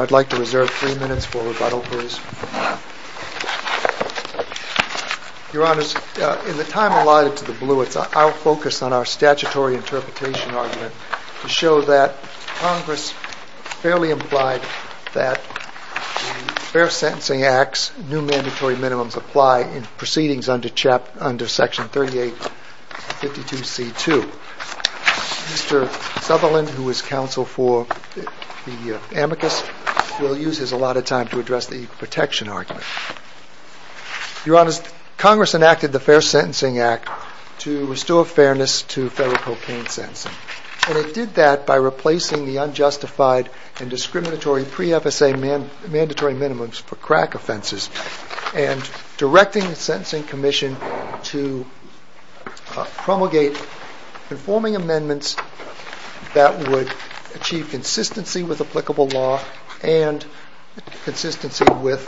I'd like to reserve three minutes for rebuttals please. Your Honor, in the time allotted to the Blewitt, I'll focus on our statutory interpretation argument to show that Congress fairly implied that the Fair Sentencing Act's new mandatory minimums apply in proceedings under Section 3850 D.C. 2. Mr. Sutherland, who is counsel for the amicus, will use his allotted time to address the protection argument. Your Honor, Congress enacted the Fair Sentencing Act to restore fairness to federal cocaine sentencing. And it did that by replacing the unjustified and discriminatory pre-FSA mandatory minimums for crack offenses and directing the Sentencing Commission to promulgate conforming amendments that would achieve consistency with applicable law and consistency with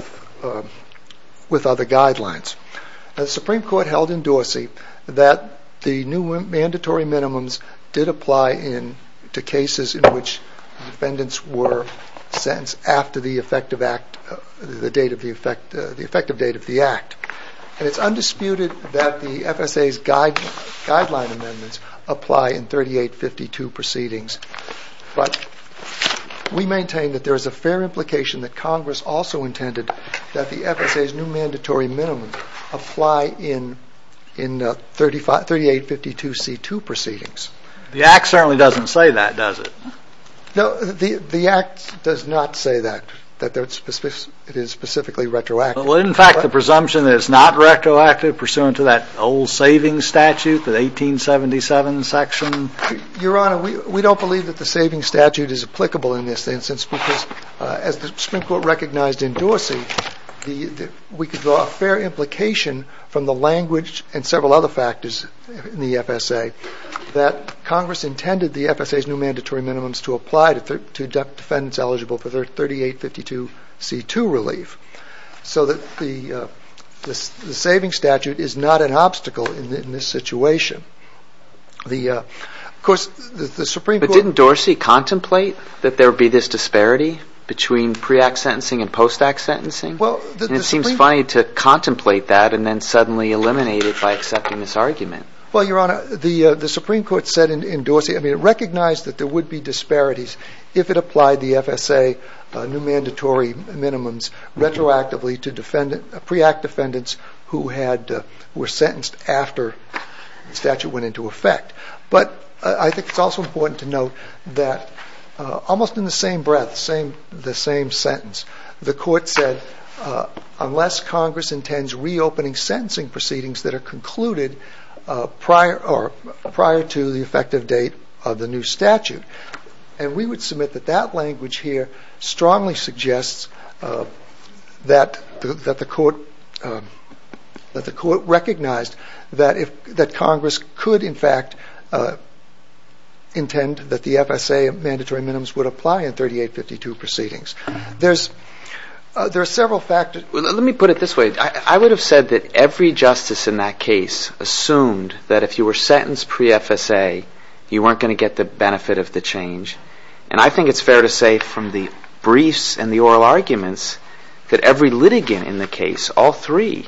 other guidelines. The Supreme Court held in Dorsey that the new mandatory minimums did apply to cases in which defendants were sentenced after the effective date of the act. It's undisputed that the FSA's guideline amendments apply in 3852 proceedings. But we maintain that there is a fair implication that Congress also intended that the FSA's new mandatory minimums apply in 3852 C. 2 proceedings. The act certainly doesn't say that, does it? No, the act does not say that, that it is specifically retroactive. In fact, the presumption is not retroactive pursuant to that old saving statute, the 1877 section? Your Honor, we don't believe that the saving statute is applicable in this instance because as the Supreme Court recognized in Dorsey, we could draw a fair implication from the language and several other factors in the FSA that Congress intended the FSA's new mandatory minimums to apply to defendants eligible for 3852 C. 2 relief. So the saving statute is not an obstacle in this situation. But didn't Dorsey contemplate that there would be this disparity between pre-act sentencing and post-act sentencing? It seems funny to contemplate that and then suddenly eliminate it by accepting this argument. Well, Your Honor, the Supreme Court said in Dorsey, it recognized that there would be disparities if it applied the FSA new mandatory minimums retroactively to pre-act defendants who were sentenced after the statute went into effect. But I think it's also important to note that almost in the same breath, the same sentence, the court said, unless Congress intends reopening sentencing proceedings that are concluded prior to the effective date of the new statute. And we would submit that that language here strongly suggests that the court recognized that Congress could, in fact, intend that the FSA mandatory minimums would apply in 3852 proceedings. There are several factors. Let me put it this way. I would have said that every justice in that case assumed that if you were sentenced pre-FSA, you weren't going to get the benefit of the change. And I think it's fair to say from the briefs and the oral arguments that every litigant in the case, all three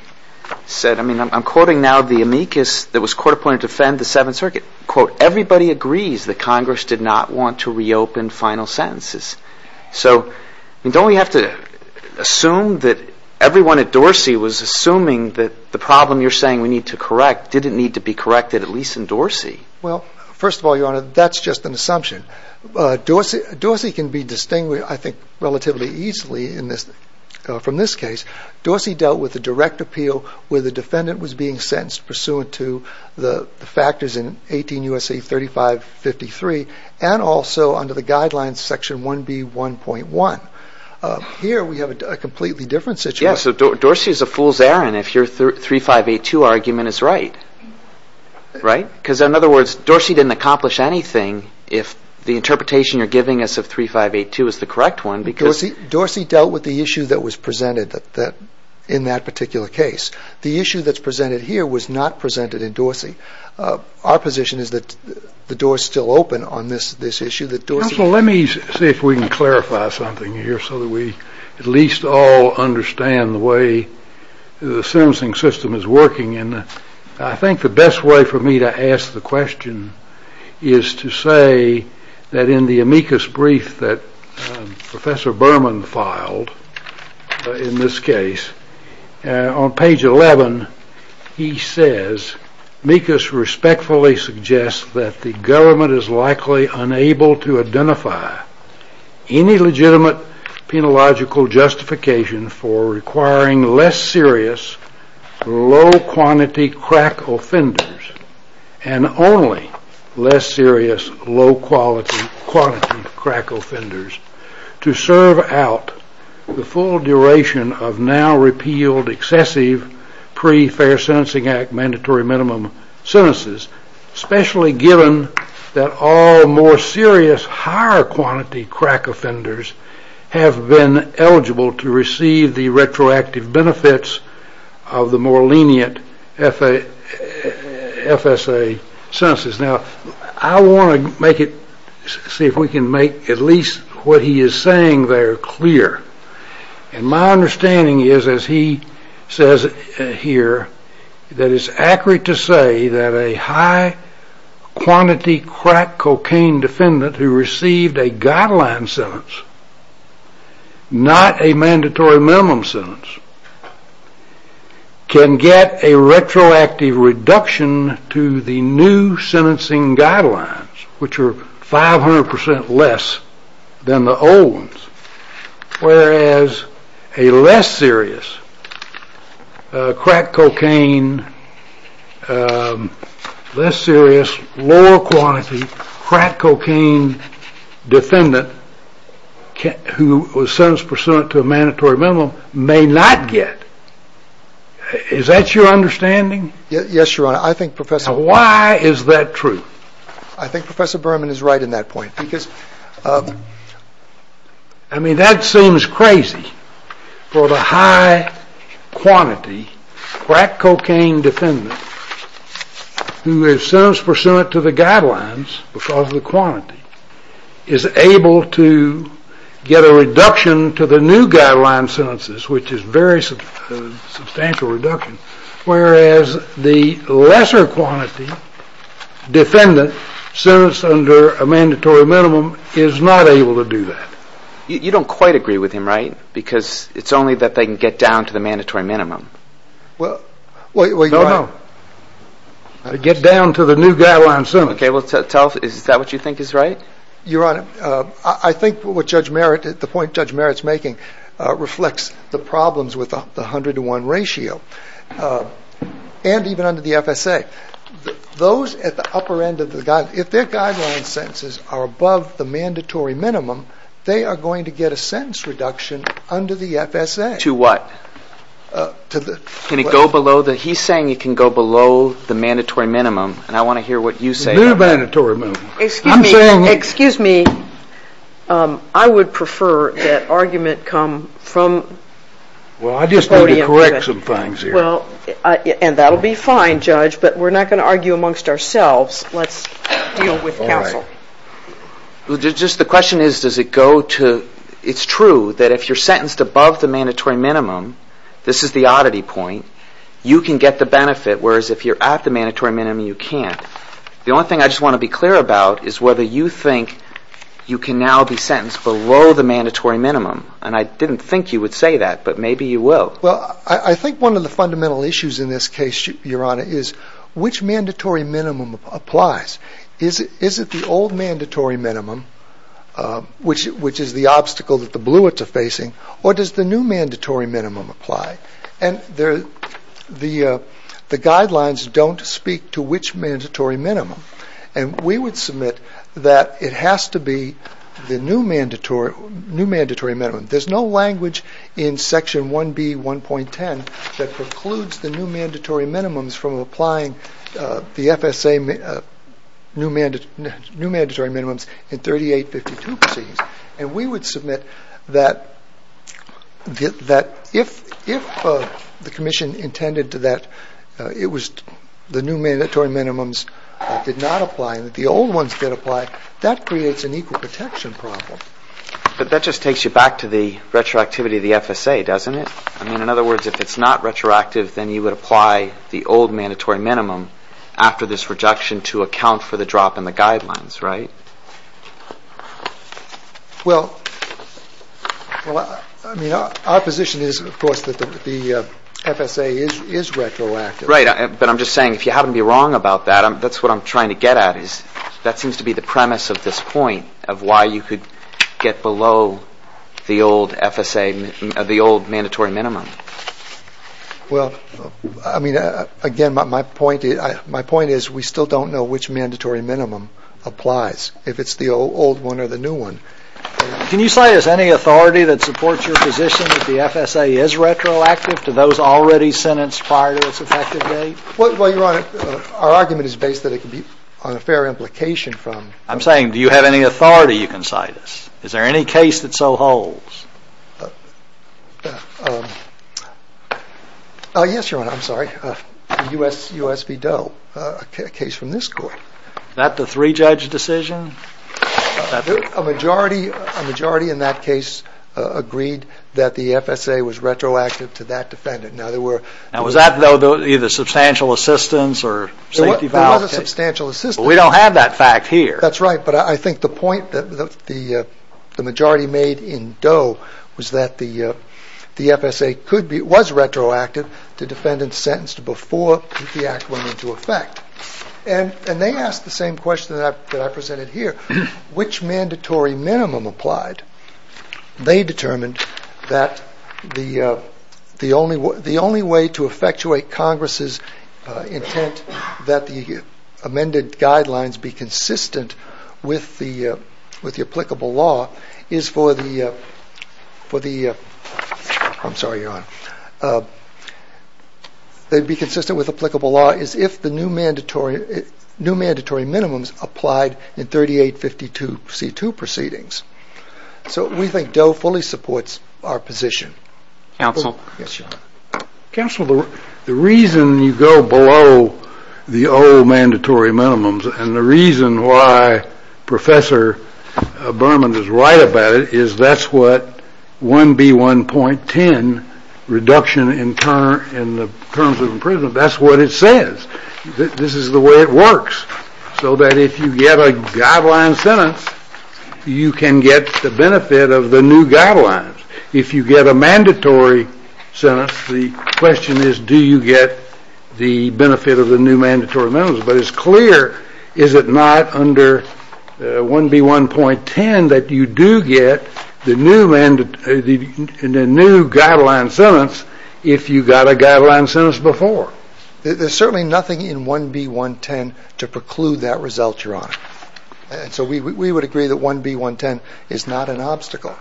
said, I mean, I'm quoting now the amicus that was court-appointed to defend the Seventh Circuit. Quote, everybody agrees that Congress did not want to reopen final sentences. So don't we have to assume that everyone at Dorsey was assuming that the problem you're saying we need to correct didn't need to be corrected, at least in Dorsey? Well, first of all, Your Honor, that's just an assumption. Dorsey can be distinguished, I think, relatively easily from this case. Dorsey dealt with the direct appeal where the defendant was being sentenced pursuant to the factors in 18 U.S.A. 3553 and also under the guidelines section 1B.1.1. Here we have a completely different situation. Yes, so Dorsey is a fool's errand if your 3582 argument is right, right? Because, in other words, Dorsey didn't accomplish anything if the interpretation you're giving us of 3582 is the correct one. Dorsey dealt with the issue that was presented in that particular case. The issue that's presented here was not presented in Dorsey. Our position is that the door is still open on this issue. Counsel, let me see if we can clarify something here so that we at least all understand the way the sentencing system is working. I think the best way for me to ask the question is to say that in the amicus brief that Professor Berman filed in this case, on page 11 he says, amicus respectfully suggests that the government is likely unable to identify any legitimate penological justification for requiring less serious low-quantity crack offenders and only less serious low-quality crack offenders to serve out the full duration of now-repealed excessive pre-Fair Sentencing Act mandatory minimum sentences, especially given that all more serious higher-quantity crack offenders have been eligible to receive the retroactive benefits of the more lenient FSA sentences. I want to see if we can make at least what he is saying there clear. My understanding is, as he says here, that it's accurate to say that a high-quantity crack cocaine defendant who received a guideline sentence, not a mandatory minimum sentence, can get a retroactive reduction to the new sentencing guidelines, which are 500% less than the old ones, whereas a less serious crack cocaine defendant who was sentenced pursuant to a mandatory minimum may not get. Is that your understanding? Yes, Your Honor. Why is that true? I think Professor Berman is right in that point. I mean, that seems crazy, for the high-quantity crack cocaine defendant who is sentenced pursuant to the guidelines, because of the quantity, is able to get a reduction to the new guideline sentences, which is a very substantial reduction, whereas the lesser-quantity defendant, sentenced under a mandatory minimum, is not able to do that. You don't quite agree with him, right? Because it's only that they can get down to the mandatory minimum. Get down to the new guideline sentences. Is that what you think is right? Your Honor, I think the point Judge Merritt is making reflects the problems with the 101 ratio, and even under the FSA. Those at the upper end of the guideline, if their guideline sentences are above the mandatory minimum, they are going to get a sentence reduction under the FSA. To what? He's saying you can go below the mandatory minimum, and I want to hear what you say about that. Excuse me. I would prefer that argument come from the podium. Well, I just want to correct some things here. And that will be fine, Judge, but we're not going to argue amongst ourselves. Let's deal with counsel. The question is, does it go to... It's true that if you're sentenced above the mandatory minimum, this is the oddity point, you can get the benefit, whereas if you're at the mandatory minimum, you can't. The only thing I just want to be clear about is whether you think you can now be sentenced below the mandatory minimum. And I didn't think you would say that, but maybe you will. Well, I think one of the fundamental issues in this case, Your Honor, is which mandatory minimum applies. Is it the old mandatory minimum, which is the obstacle that the Bluets are facing, or does the new mandatory minimum apply? And the guidelines don't speak to which mandatory minimum. And we would submit that it has to be the new mandatory minimum. There's no language in Section 1B.1.10 that precludes the new mandatory minimums from applying the FSA new mandatory minimums in 3852 proceedings. And we would submit that if the commission intended that the new mandatory minimums did not apply, and that the old ones did apply, that creates an equal protection problem. But that just takes you back to the retroactivity of the FSA, doesn't it? In other words, if it's not retroactive, then you would apply the old mandatory minimum after this reduction to account for the drop in the guidelines, right? Well, our position is, of course, that the FSA is retroactive. Right, but I'm just saying, if you happen to be wrong about that, that's what I'm trying to get at. That seems to be the premise of this point, of why you could get below the old mandatory minimum. Well, I mean, again, my point is, we still don't know which mandatory minimum applies, if it's the old one or the new one. Can you cite us any authority that supports your position that the FSA is retroactive to those already sentenced prior to its effective date? Our argument is based on a fair implication from... I'm saying, do you have any authority you can cite us? Is there any case that so holds? Yes, Your Honor, I'm sorry. The U.S. v. Doe, a case from this court. Is that the three-judge decision? A majority in that case agreed that the FSA was retroactive to that defendant. Now, was that either substantial assistance or safety violations? It was a substantial assistance. But we don't have that fact here. So, was that the FSA was retroactive to defendants sentenced before the act went into effect? And they asked the same question that I presented here, which mandatory minimum applied? They determined that the only way to effectuate Congress' intent that the amended guidelines be consistent with the applicable law is for the... I'm sorry, Your Honor. They'd be consistent with applicable law as if the new mandatory minimums applied in 3852C2 proceedings. So, we think Doe fully supports our position. Counsel? Yes, Your Honor. Counsel, the reason you go below the old mandatory minimums and the reason why Professor Berman is right about it is that's what 1B1.10, Reduction in the Terms of Imprisonment, that's what it says. This is the way it works. So that if you get a guideline sentence, you can get the benefit of the new guidelines. If you get a mandatory sentence, the question is do you get the benefit of the new mandatory minimums. But it's clear is it not under 1B1.10 that you do get the new guideline sentence if you got a guideline sentence before. There's certainly nothing in 1B1.10 to preclude that result, Your Honor. So we would agree that 1B1.10 is not an obstacle.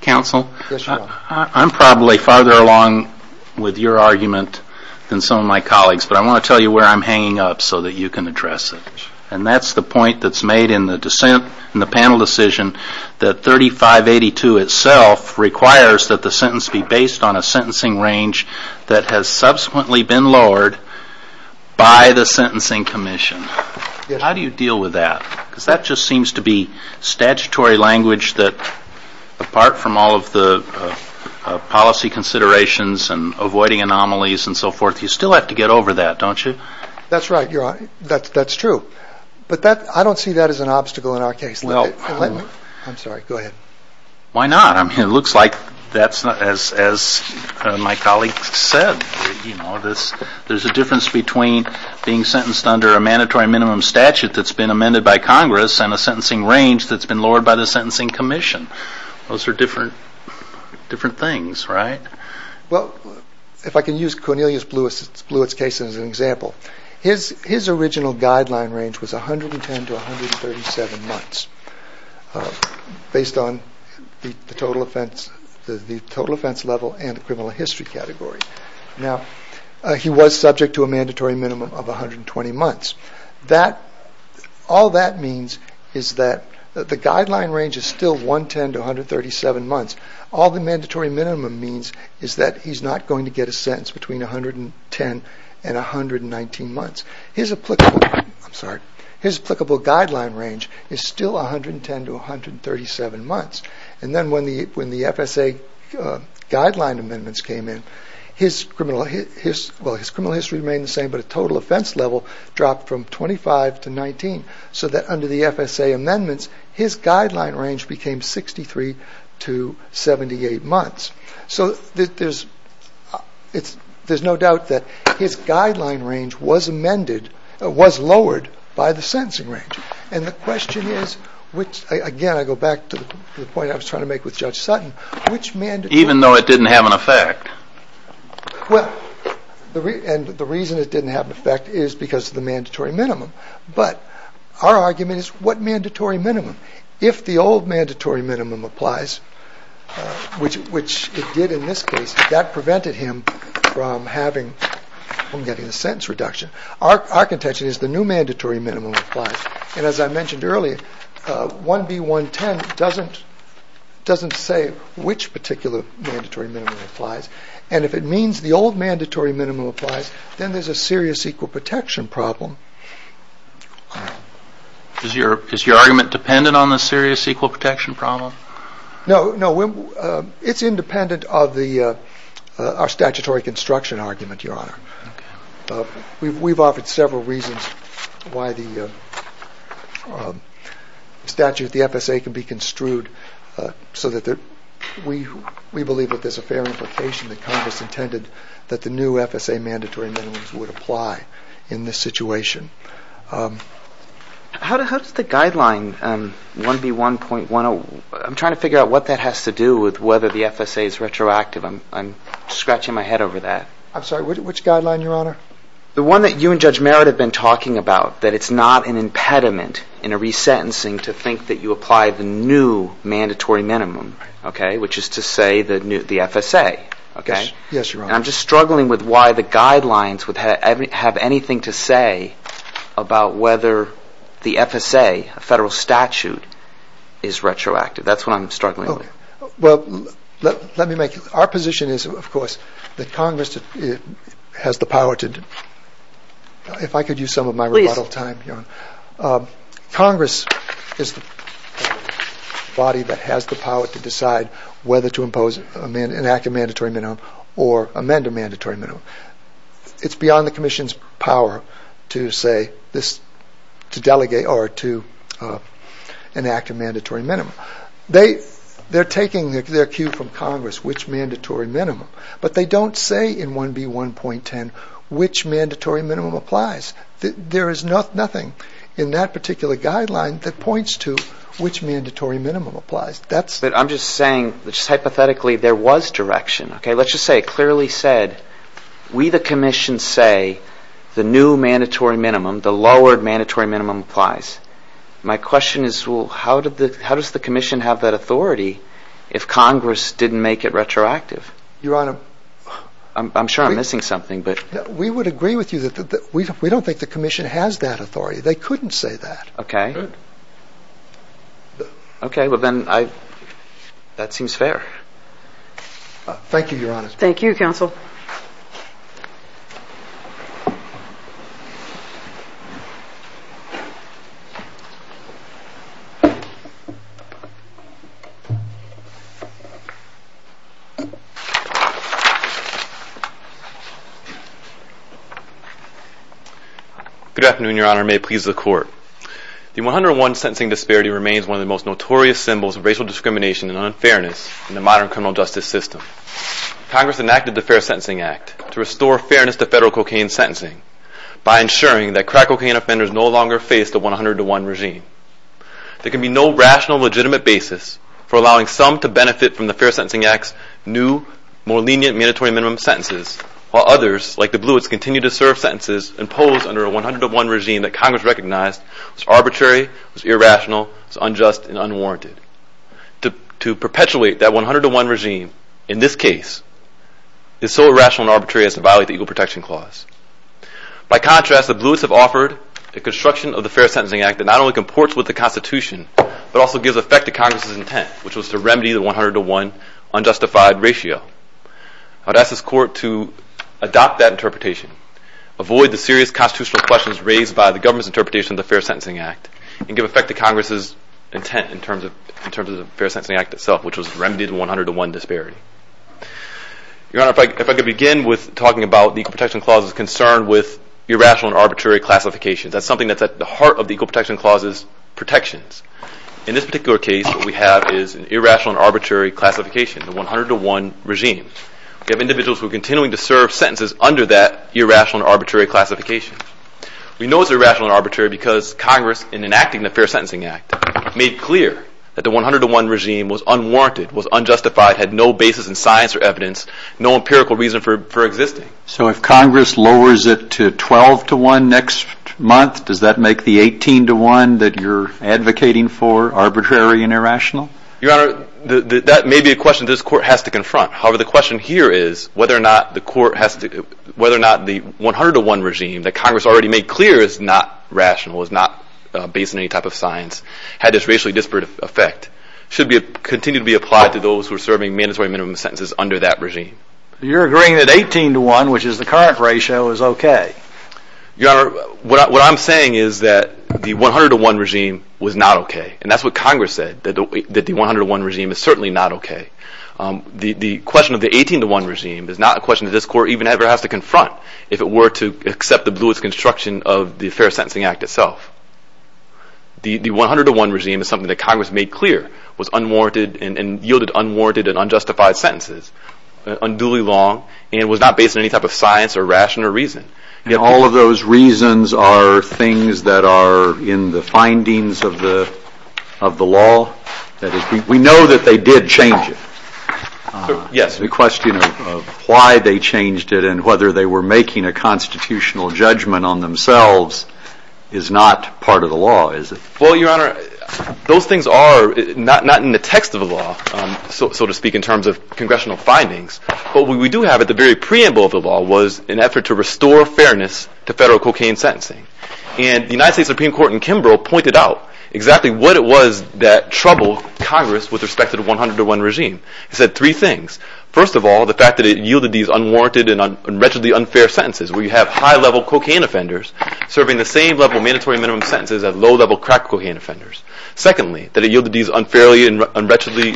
Counsel, I'm probably farther along with your argument than some of my colleagues, but I want to tell you where I'm hanging up so that you can address it. And that's the point that's made in the panel decision that 3582 itself requires that the sentence be based on a sentencing range that has subsequently been lowered by the Sentencing Commission. How do you deal with that? Because that just seems to be statutory language that apart from all of the policy considerations and avoiding anomalies and so forth, you still have to get over that, don't you? That's right, Your Honor. That's true. But I don't see that as an obstacle in our case. I'm sorry. Go ahead. Why not? It looks like that's not as my colleague said. There's a difference between being sentenced under a mandatory minimum statute that's been amended by Congress and a sentencing range that's been lowered by the Sentencing Commission. Those are different things, right? Well, if I can use Cornelius Blewett's case as an example, his original guideline range was 110 to 137 months based on the total offense level and criminal history category. Now, he was subject to a mandatory minimum of 120 months. All that means is that the guideline range is still 110 to 137 months. All the mandatory minimum means is that he's not going to get a sentence between 110 and 119 months. His applicable guideline range is still 110 to 137 months. And then when the FSA guideline amendments came in, his criminal history remained the same, but the total offense level dropped from 25 to 19, so that under the FSA amendments, his guideline range became 63 to 78 months. So there's no doubt that his guideline range was lowered by the sentencing range. And the question is, again, I go back to the point I was trying to make with Judge Sutton. Even though it didn't have an effect? Well, and the reason it didn't have an effect is because of the mandatory minimum. But our argument is what mandatory minimum? If the old mandatory minimum applies, which it did in this case, that prevented him from getting a sentence reduction. Our contention is the new mandatory minimum applies. And as I mentioned earlier, 1B.110 doesn't say which particular mandatory minimum applies. And if it means the old mandatory minimum applies, then there's a serious equal protection problem. Is your argument dependent on the serious equal protection problem? No, it's independent of our statutory construction argument, Your Honor. We've offered several reasons why the statute, the FSA, can be construed so that we believe that there's a fair implication that Congress intended that the new FSA mandatory minimum would apply in this situation. How does the guideline 1B.110, I'm trying to figure out what that has to do with whether the FSA is retroactive. I'm scratching my head over that. I'm sorry, which guideline, Your Honor? The one that you and Judge Merritt have been talking about, that it's not an impediment in a resentencing to think that you apply the new mandatory minimum, okay, which is to say the FSA, okay? Yes, Your Honor. And I'm just struggling with why the guidelines have anything to say about whether the FSA, a federal statute, is retroactive. That's what I'm struggling with. Well, let me make it. Our position is, of course, that Congress has the power to – if I could use some of my rebuttal time, Your Honor. Congress is the body that has the power to decide whether to impose an active mandatory minimum or amend a mandatory minimum. It's beyond the Commission's power to say this – to delegate or to enact a mandatory minimum. They're taking their cue from Congress, which mandatory minimum, but they don't say in 1B.110 which mandatory minimum applies. There is nothing in that particular guideline that points to which mandatory minimum applies. But I'm just saying, just hypothetically, there was direction, okay? Let's just say it clearly said, we, the Commission, say the new mandatory minimum, the lowered mandatory minimum applies. My question is, well, how does the Commission have that authority if Congress didn't make it retroactive? Your Honor. I'm sure I'm missing something. We would agree with you that we don't think the Commission has that authority. They couldn't say that. Okay. Okay. Well, then, that seems fair. Thank you, Your Honor. Thank you, Counsel. Good afternoon, Your Honor. May it please the Court. The 101 sentencing disparity remains one of the most notorious symbols of racial discrimination and unfairness in the modern criminal justice system. Congress enacted the Fair Sentencing Act to restore fairness to federal cocaine sentencing by ensuring that crack cocaine offenders no longer face the 100 to 1 regime. There can be no rational, legitimate basis for allowing some to benefit from the Fair Sentencing Act's new, more lenient mandatory minimum sentences, while others, like the Bluets, continue to serve sentences imposed under a 100 to 1 regime that Congress recognized was arbitrary, was irrational, was unjust, and unwarranted. To perpetuate that 100 to 1 regime, in this case, is so irrational and arbitrary as to violate the Equal Protection Clause. By contrast, the Bluets have offered the construction of the Fair Sentencing Act that not only comports with the Constitution but also gives effect to Congress's intent, which was to remedy the 100 to 1 unjustified ratio. I'd ask this Court to adopt that interpretation, avoid the serious constitutional questions raised by the government's interpretation of the Fair Sentencing Act, and give effect to Congress's intent in terms of the Fair Sentencing Act itself, which was to remedy the 100 to 1 disparity. Your Honor, if I could begin with talking about the Equal Protection Clause's concern with irrational and arbitrary classification. That's something that's at the heart of the Equal Protection Clause's protections. In this particular case, what we have is an irrational and arbitrary classification, the 100 to 1 regime. We have individuals who are continuing to serve sentences under that irrational and arbitrary classification. We know it's irrational and arbitrary because Congress, in enacting the Fair Sentencing Act, made clear that the 100 to 1 regime was unwarranted, was unjustified, had no basis in science or evidence, no empirical reason for existing. So if Congress lowers it to 12 to 1 next month, does that make the 18 to 1 that you're advocating for arbitrary and irrational? Your Honor, that may be a question this Court has to confront. However, the question here is whether or not the 100 to 1 regime that Congress already made clear is not rational, is not based on any type of science, had this racially disparate effect, should continue to be applied to those who are serving mandatory minimum sentences under that regime. You're agreeing that 18 to 1, which is the current ratio, is okay. Your Honor, what I'm saying is that the 100 to 1 regime was not okay, and that's what Congress said, that the 100 to 1 regime is certainly not okay. The question of the 18 to 1 regime is not a question that this Court even ever has to confront if it were to accept the bluest construction of the Fair Sentencing Act itself. The 100 to 1 regime is something that Congress made clear was unwarranted and yielded unwarranted and unjustified sentences, unduly long, and was not based on any type of science or ration or reason. All of those reasons are things that are in the findings of the law. We know that they did change it. The question of why they changed it and whether they were making a constitutional judgment on themselves is not part of the law, is it? Well, Your Honor, those things are not in the text of the law, so to speak, in terms of congressional findings. But what we do have at the very preamble of the law was an effort to restore fairness to federal cocaine sentencing. And the United States Supreme Court in Kimbrough pointed out exactly what it was that troubled Congress with respect to the 100 to 1 regime. It said three things. First of all, the fact that it yielded these unwarranted and wretchedly unfair sentences where you have high-level cocaine offenders serving the same level of mandatory minimum sentences as low-level crack cocaine offenders. Secondly, that it yielded these unfairly and unwretchedly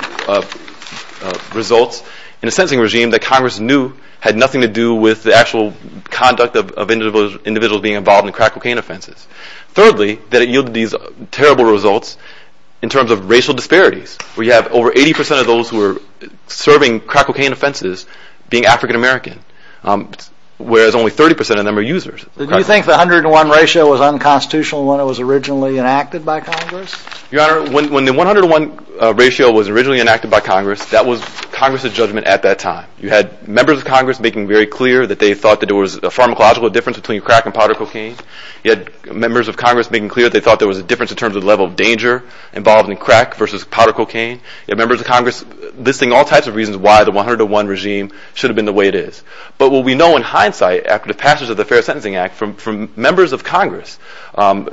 results in a sentencing regime that Congress knew had nothing to do with the actual conduct of individuals being involved in crack cocaine offenses. Thirdly, that it yielded these terrible results in terms of racial disparities where you have over 80% of those who are serving crack cocaine offenses being African American, whereas only 30% of them are users. Did you think the 100 to 1 ratio was unconstitutional when it was originally enacted by Congress? Your Honor, when the 100 to 1 ratio was originally enacted by Congress, that was Congress's judgment at that time. You had members of Congress making very clear that they thought there was a pharmacological difference between crack and powder cocaine. You had members of Congress making clear they thought there was a difference in terms of the level of danger involved in crack versus powder cocaine. You had members of Congress listing all types of reasons why the 100 to 1 regime should have been the way it is. But what we know in hindsight after the passage of the Fair Sentencing Act from members of Congress,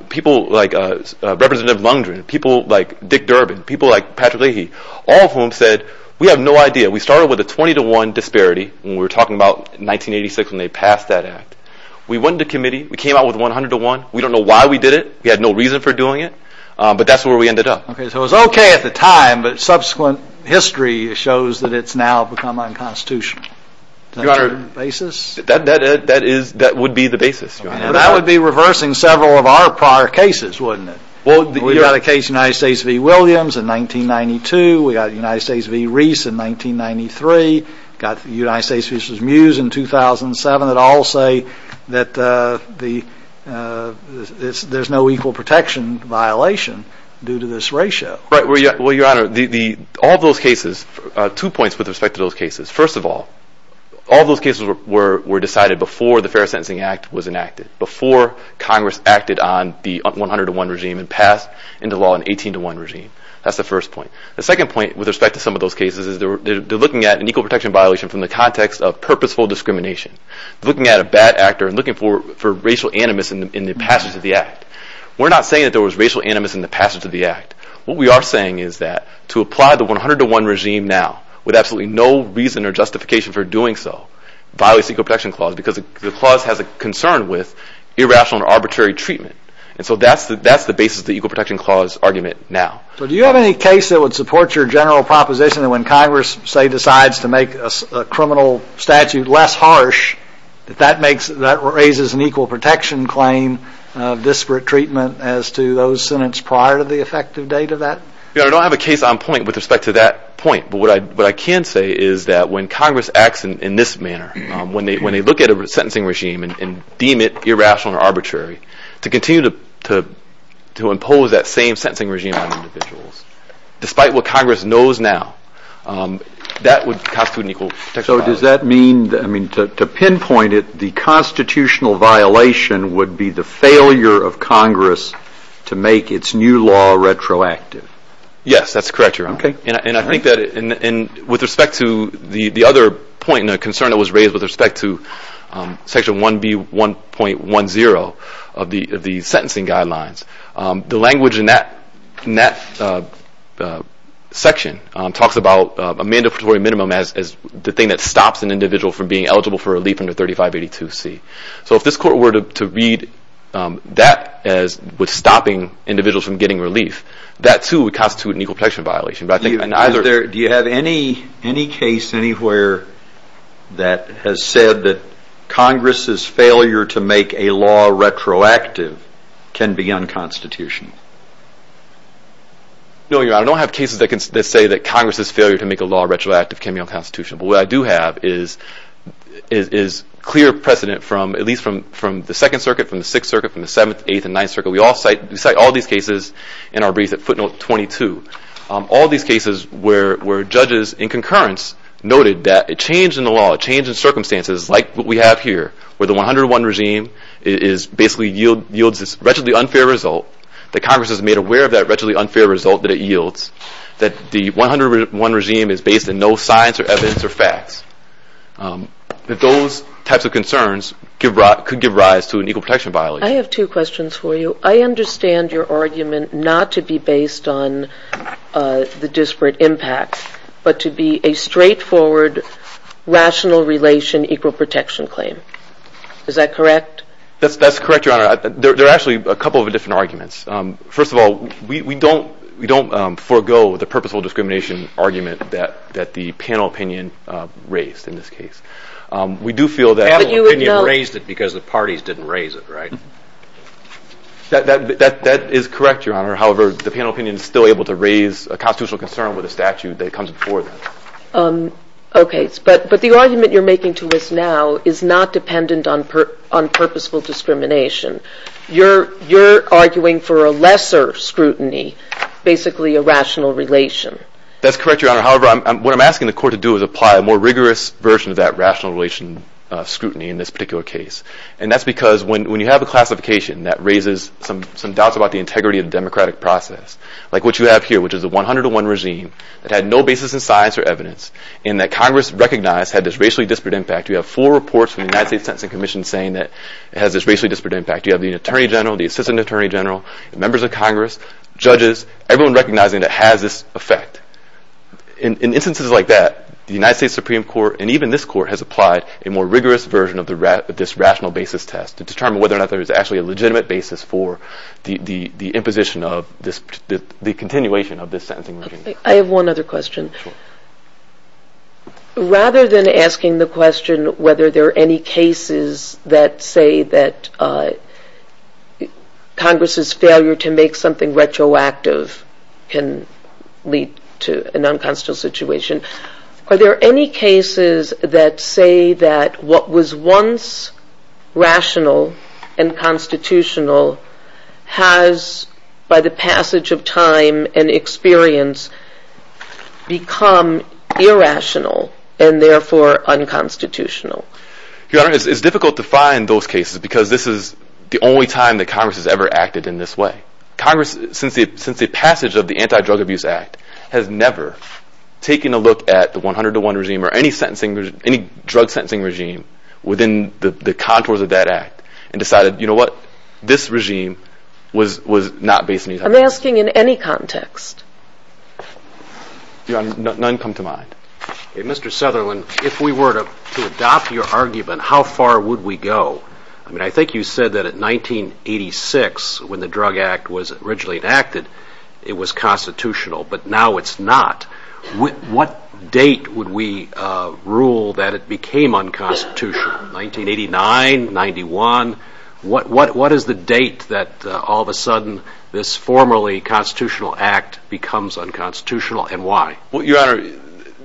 people like Representative Lundgren, people like Dick Durbin, people like Patrick Leahy, all of whom said we have no idea. We started with a 20 to 1 disparity when we were talking about 1986 when they passed that act. We went to committee. We came out with 100 to 1. We don't know why we did it. We had no reason for doing it. But that's where we ended up. Okay, so it was okay at the time, but subsequent history shows that it's now become unconstitutional. Your Honor, that would be the basis. That would be reversing several of our prior cases, wouldn't it? We've got a case of the United States v. Williams in 1992. We've got the United States v. Reese in 1993. We've got the United States v. Mews in 2007. It all say that there's no equal protection violation due to this ratio. Well, Your Honor, all those cases, two points with respect to those cases. First of all, all those cases were decided before the Fair Sentencing Act was enacted, before Congress acted on the 100 to 1 regime and passed into law an 18 to 1 regime. That's the first point. The second point with respect to some of those cases is they're looking at an equal protection violation from the context of purposeful discrimination. They're looking at a bad actor and looking for racial animus in the passage of the act. We're not saying that there was racial animus in the passage of the act. What we are saying is that to apply the 100 to 1 regime now, with absolutely no reason or justification for doing so, violates equal protection clause because the clause has a concern with irrational or arbitrary treatment. And so that's the basis of the equal protection clause argument now. So do you have any case that would support your general proposition that when Congress, say, decides to make a criminal statute less harsh, that that raises an equal protection claim, disparate treatment, as to those sentenced prior to the effective date of that? I don't have a case on point with respect to that point, but what I can say is that when Congress acts in this manner, when they look at a sentencing regime and deem it irrational or arbitrary, to continue to impose that same sentencing regime on individuals, So does that mean, I mean, to pinpoint it, the constitutional violation would be the failure of Congress to make its new law retroactive? Yes, that's correct, Your Honor. And I think that with respect to the other point and the concern that was raised with respect to Section 1B.1.10 of the sentencing guidelines, the language in that section talks about a mandatory minimum as the thing that stops an individual from being eligible for relief under 3582C. So if this Court were to read that as stopping individuals from getting relief, that too would constitute an equal protection violation. Do you have any case anywhere that has said that Congress's failure to make a law retroactive can be unconstitutional? No, Your Honor. I don't have cases that say that Congress's failure to make a law retroactive can be unconstitutional, but what I do have is clear precedent from at least from the 2nd Circuit, from the 6th Circuit, from the 7th, 8th, and 9th Circuit. We cite all these cases in our brief at footnote 22. All these cases where judges in concurrence noted that a change in the law, a change in circumstances like what we have here, where the 101 regime basically yields this retroactively unfair result, that Congress is made aware of that retroactively unfair result that it yields, that the 101 regime is based on no science or evidence or facts, that those types of concerns could give rise to an equal protection violation. I have two questions for you. I understand your argument not to be based on the disparate impacts, but to be a straightforward rational relation equal protection claim. Is that correct? That's correct, Your Honor. There are actually a couple of different arguments. First of all, we don't forego the purposeful discrimination argument that the panel opinion raised in this case. We do feel that the panel opinion raised it because the parties didn't raise it, right? That is correct, Your Honor. However, the panel opinion is still able to raise a constitutional concern with a statute that comes before that. Okay. But the argument you're making to us now is not dependent on purposeful discrimination. You're arguing for a lesser scrutiny, basically a rational relation. That's correct, Your Honor. However, what I'm asking the Court to do is apply a more rigorous version of that rational relation scrutiny in this particular case. And that's because when you have a classification that raises some doubts about the integrity of the democratic process, like what you have here, which is a 101 regime that had no basis in science or evidence, and that Congress recognized had this racially disparate impact, you have four reports in the United States Sentencing Commission saying that it has this racially disparate impact. You have the Attorney General, the Assistant Attorney General, members of Congress, judges, everyone recognizing it has this effect. In instances like that, the United States Supreme Court, and even this Court, has applied a more rigorous version of this rational basis test to determine whether or not there is actually a legitimate basis for the imposition of the continuation of this sentencing regime. I have one other question. Rather than asking the question whether there are any cases that say that Congress's failure to make something retroactive can lead to a nonconstitutional situation, are there any cases that say that what was once rational and constitutional has, by the passage of time and experience, become irrational and therefore unconstitutional? Your Honor, it's difficult to find those cases because this is the only time that Congress has ever acted in this way. Congress, since the passage of the Anti-Drug Abuse Act, has never taken a look at the 101 regime or any drug sentencing regime within the contours of that act and decided, you know what, this regime was not based on these arguments. I'm asking in any context. Your Honor, none come to mind. Mr. Sutherland, if we were to adopt your argument, how far would we go? I think you said that in 1986, when the Drug Act was originally enacted, it was constitutional, but now it's not. What date would we rule that it became unconstitutional? 1989, 1991? What is the date that all of a sudden this formerly constitutional act becomes unconstitutional and why? Your Honor,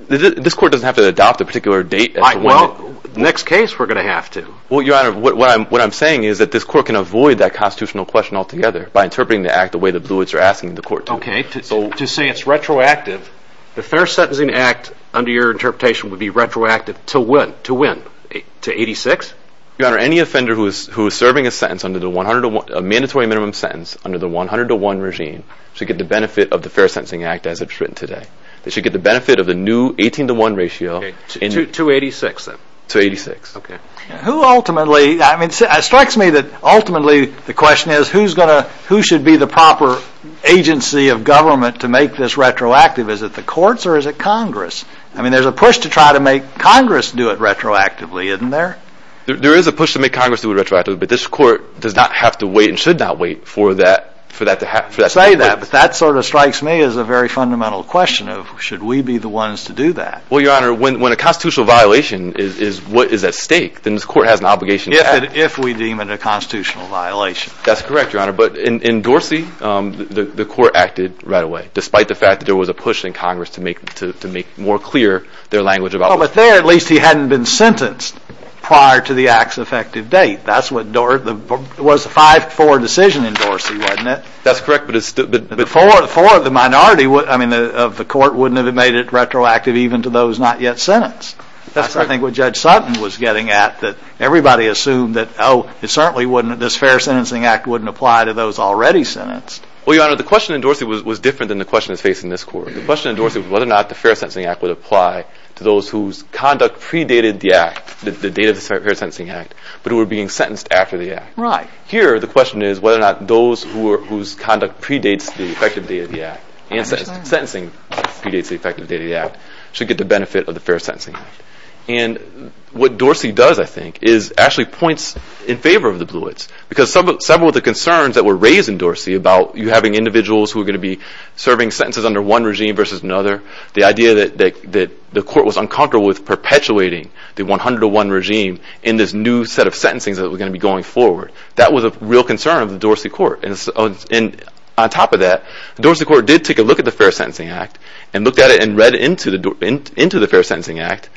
this Court doesn't have to adopt a particular date. I won't. Next case we're going to have to. Your Honor, what I'm saying is that this Court can avoid that constitutional question altogether by interpreting the act the way the Bluets are asking the Court to. Okay. To say it's retroactive, the Fair Sentencing Act, under your interpretation, would be retroactive to when? To 86? Your Honor, any offender who is serving a mandatory minimum sentence under the 100-to-1 regime should get the benefit of the Fair Sentencing Act as it's written today. They should get the benefit of the new 18-to-1 ratio. To 86, then? To 86. Okay. It strikes me that ultimately the question is who should be the proper agency of government to make this retroactive? Is it the courts or is it Congress? I mean, there's a push to try to make Congress do it retroactively, isn't there? There is a push to make Congress do it retroactively, but this Court does not have to wait and should not wait for that to happen. You say that, but that sort of strikes me as a very fundamental question of should we be the ones to do that? Well, Your Honor, when a constitutional violation is at stake, then the Court has an obligation to do it. If we deem it a constitutional violation. That's correct, Your Honor. But in Dorsey, the Court acted right away, despite the fact that there was a push in Congress to make more clear their language about it. But there, at least, he hadn't been sentenced prior to the act's effective date. That was a 5-4 decision in Dorsey, wasn't it? That's correct. But for the minority of the Court, wouldn't it have made it retroactive even to those not yet sentenced? That's what I think Judge Sutton was getting at, that everybody assumed that, oh, this Fair Sentencing Act wouldn't apply to those already sentenced. Well, Your Honor, the question in Dorsey was different than the question facing this Court. The question in Dorsey was whether or not the Fair Sentencing Act would apply to those whose conduct predated the act, the date of the Fair Sentencing Act, but who were being sentenced after the act. Right. Here, the question is whether or not those whose conduct predates the effective date of the act and sentencing predates the effective date of the act should get the benefit of the Fair Sentencing Act. And what Dorsey does, I think, is actually points in favor of the Bluets, because some of the concerns that were raised in Dorsey about you having individuals who were going to be serving sentences under one regime versus another, the idea that the Court was uncomfortable with perpetuating the 101 regime in this new set of sentencing that was going to be going forward. That was a real concern of the Dorsey Court. And on top of that, Dorsey Court did take a look at the Fair Sentencing Act and looked at it and read into the Fair Sentencing Act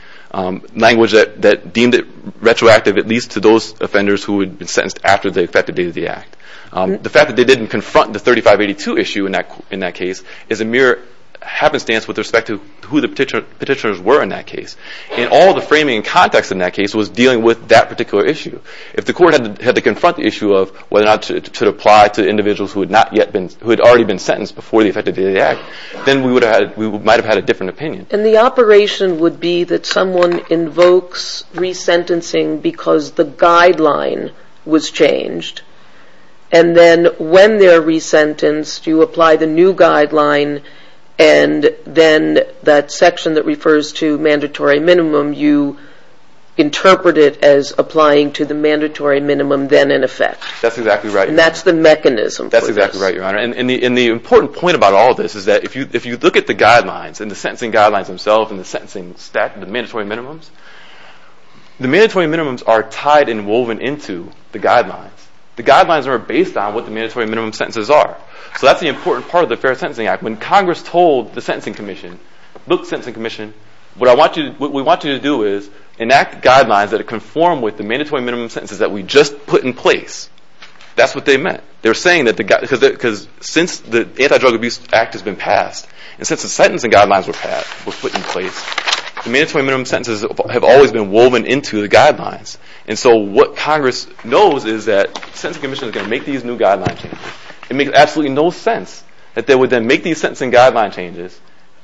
language that deemed it retroactive, at least to those offenders who would be sentenced after the effective date of the act. The fact that they didn't confront the 3582 issue in that case is a mere happenstance with respect to who the petitioners were in that case. And all the framing and context in that case was dealing with that particular issue. If the Court had to confront the issue of whether or not it should apply to individuals who had already been sentenced before the effective date of the act, then we might have had a different opinion. And the operation would be that someone invokes resentencing because the guideline was changed. And then when they're resentenced, you apply the new guideline, and then that section that refers to mandatory minimum, you interpret it as applying to the mandatory minimum then in effect. That's exactly right. And that's the mechanism. That's exactly right, Your Honor. And the important point about all of this is that if you look at the guidelines and the sentencing guidelines themselves and the sentencing stat, the mandatory minimums, the mandatory minimums are tied and woven into the guidelines. The guidelines are based on what the mandatory minimum sentences are. So that's the important part of the Fair Sentencing Act. When Congress told the Sentencing Commission, the sentencing commission, what we want you to do is enact guidelines that conform with the mandatory minimum sentences that we just put in place. That's what they meant. They're saying that since the Anti-Drug Abuse Act has been passed and since the sentencing guidelines were put in place, the mandatory minimum sentences have always been woven into the guidelines. And so what Congress knows is that the Sentencing Commission is going to make these new guidelines. It makes absolutely no sense that they would then make these sentencing guideline changes,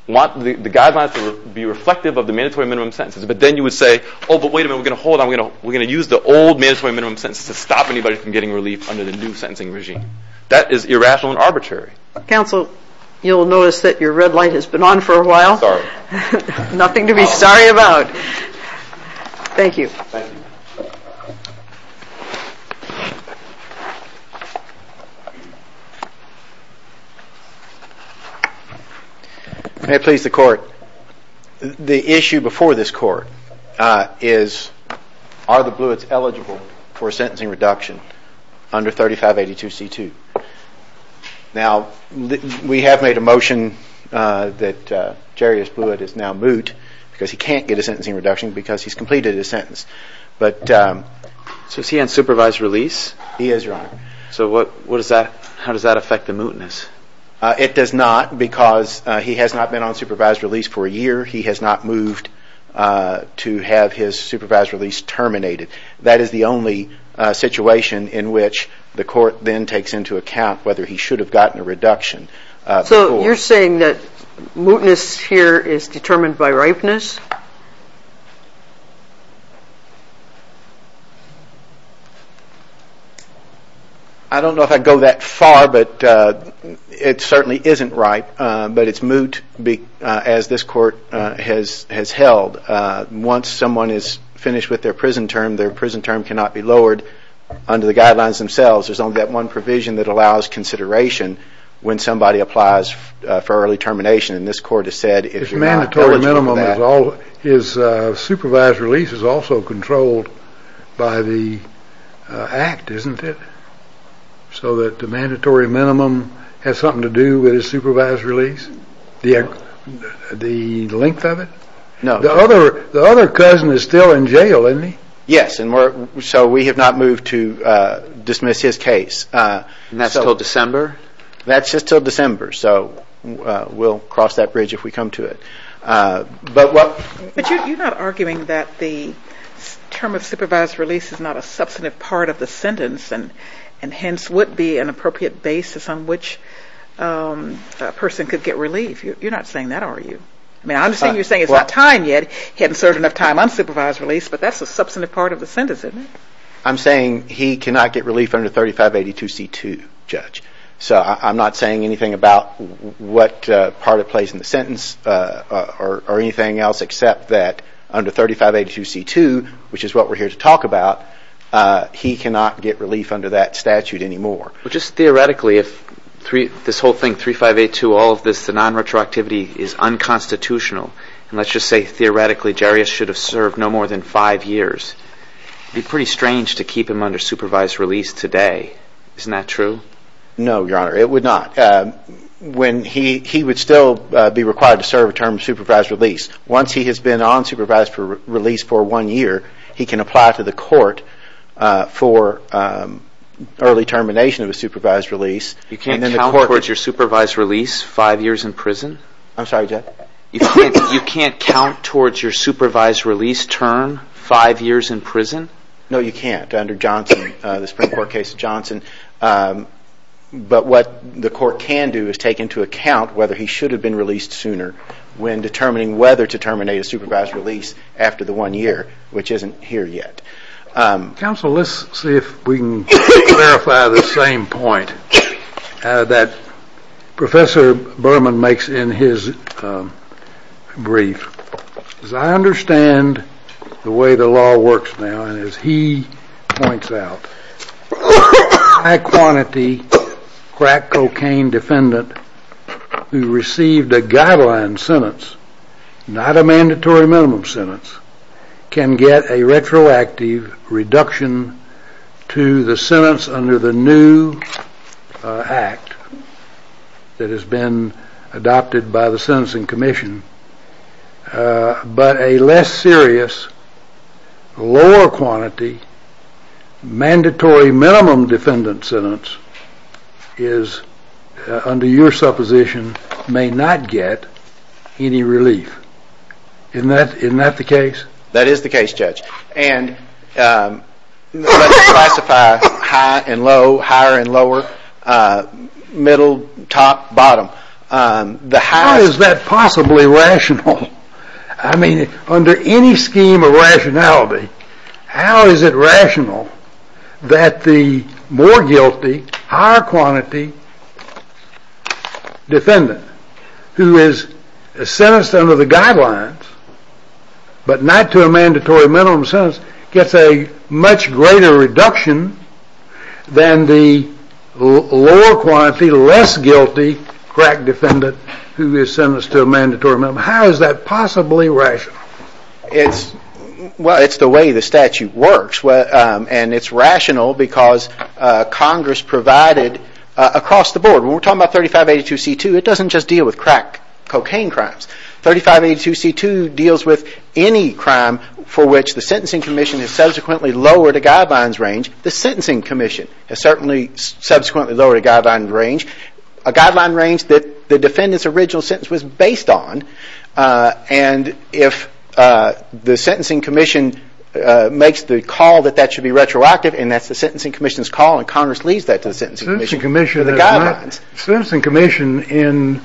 want the guidelines to be reflective of the mandatory minimum sentences, but then you would say, oh, but wait a minute, we're going to hold on. We're going to use the old mandatory minimum sentences to stop anybody from getting relief under the new sentencing regime. That is irrational and arbitrary. Counsel, you'll notice that your red light has been on for a while. Sorry. Nothing to be sorry about. Thank you. Thank you. May it please the Court. The issue before this Court is are the Bluets eligible for a sentencing reduction under 3582C2? Now, we have made a motion that Jerry's Bluet is now moot because he can't get a sentencing reduction because he's completed his sentence. But since he hasn't supervised release, he is wrong. So what does that mean? How does that affect the mootness? It does not because he has not been on supervised release for a year. He has not moved to have his supervised release terminated. That is the only situation in which the Court then takes into account whether he should have gotten a reduction. So you're saying that mootness here is determined by ripeness? I don't know if I'd go that far, but it certainly isn't right. But it's moot as this Court has held. Once someone is finished with their prison term, their prison term cannot be lowered under the guidelines themselves. There's only that one provision that allows consideration when somebody applies for early termination. And this Court has said if you want to put a minimum as always, Well, his supervised release is also controlled by the Act, isn't it? So that the mandatory minimum has something to do with his supervised release? The length of it? No. The other cousin is still in jail, isn't he? Yes. So we have not moved to dismiss his case. And that's until December? That's just until December. So we'll cross that bridge if we come to it. But you're not arguing that the term of supervised release is not a substantive part of the sentence and hence would be an appropriate basis on which a person could get relief. You're not saying that, are you? I'm assuming you're saying it's not time yet. He hasn't served enough time unsupervised release, but that's a substantive part of the sentence, isn't it? I'm saying he cannot get relief under 3582C2, Judge. So I'm not saying anything about what part it plays in the sentence or anything else except that under 3582C2, which is what we're here to talk about, he cannot get relief under that statute anymore. But just theoretically, if this whole thing, 3582, all of this non-retroactivity is unconstitutional, and let's just say theoretically Jarius should have served no more than five years, it would be pretty strange to keep him under supervised release today. Isn't that true? No, Your Honor, it would not. He would still be required to serve a term of supervised release. Once he has been on supervised release for one year, he can apply to the court for early termination of a supervised release. You can't count towards your supervised release five years in prison? I'm sorry, Judge? You can't count towards your supervised release term five years in prison? No, you can't under Johnson, the Supreme Court case of Johnson. But what the court can do is take into account whether he should have been released sooner when determining whether to terminate his supervised release after the one year, which isn't here yet. Counsel, let's see if we can clarify the same point that Professor Berman makes in his brief. As I understand the way the law works now, and as he points out, a high-quantity crack cocaine defendant who received a guideline sentence, not a mandatory minimum sentence, can get a retroactive reduction to the sentence under the new act that has been adopted by the Sentencing Commission, but a less serious, lower-quantity, mandatory minimum defendant sentence under your supposition may not get any relief. Isn't that the case? That is the case, Judge. And let's classify high and low, higher and lower, middle, top, bottom. How is that possibly rational? I mean, under any scheme of rationality, how is it rational that the more guilty, higher-quantity defendant, who is sentenced under the guidelines, but not to a mandatory minimum sentence, gets a much greater reduction than the lower-quantity, less guilty crack defendant who is sentenced to a mandatory minimum? How is that possibly rational? Well, it's the way the statute works, and it's rational because Congress provided across the board. When we're talking about 3582C2, it doesn't just deal with crack cocaine crimes. 3582C2 deals with any crime for which the Sentencing Commission has subsequently lowered a guideline's range. The Sentencing Commission has certainly subsequently lowered a guideline's range, a guideline range that the defendant's original sentence was based on. And if the Sentencing Commission makes the call that that should be retroactive, and that's the Sentencing Commission's call, and Congress leaves that to the Sentencing Commission for the guidelines. The Sentencing Commission in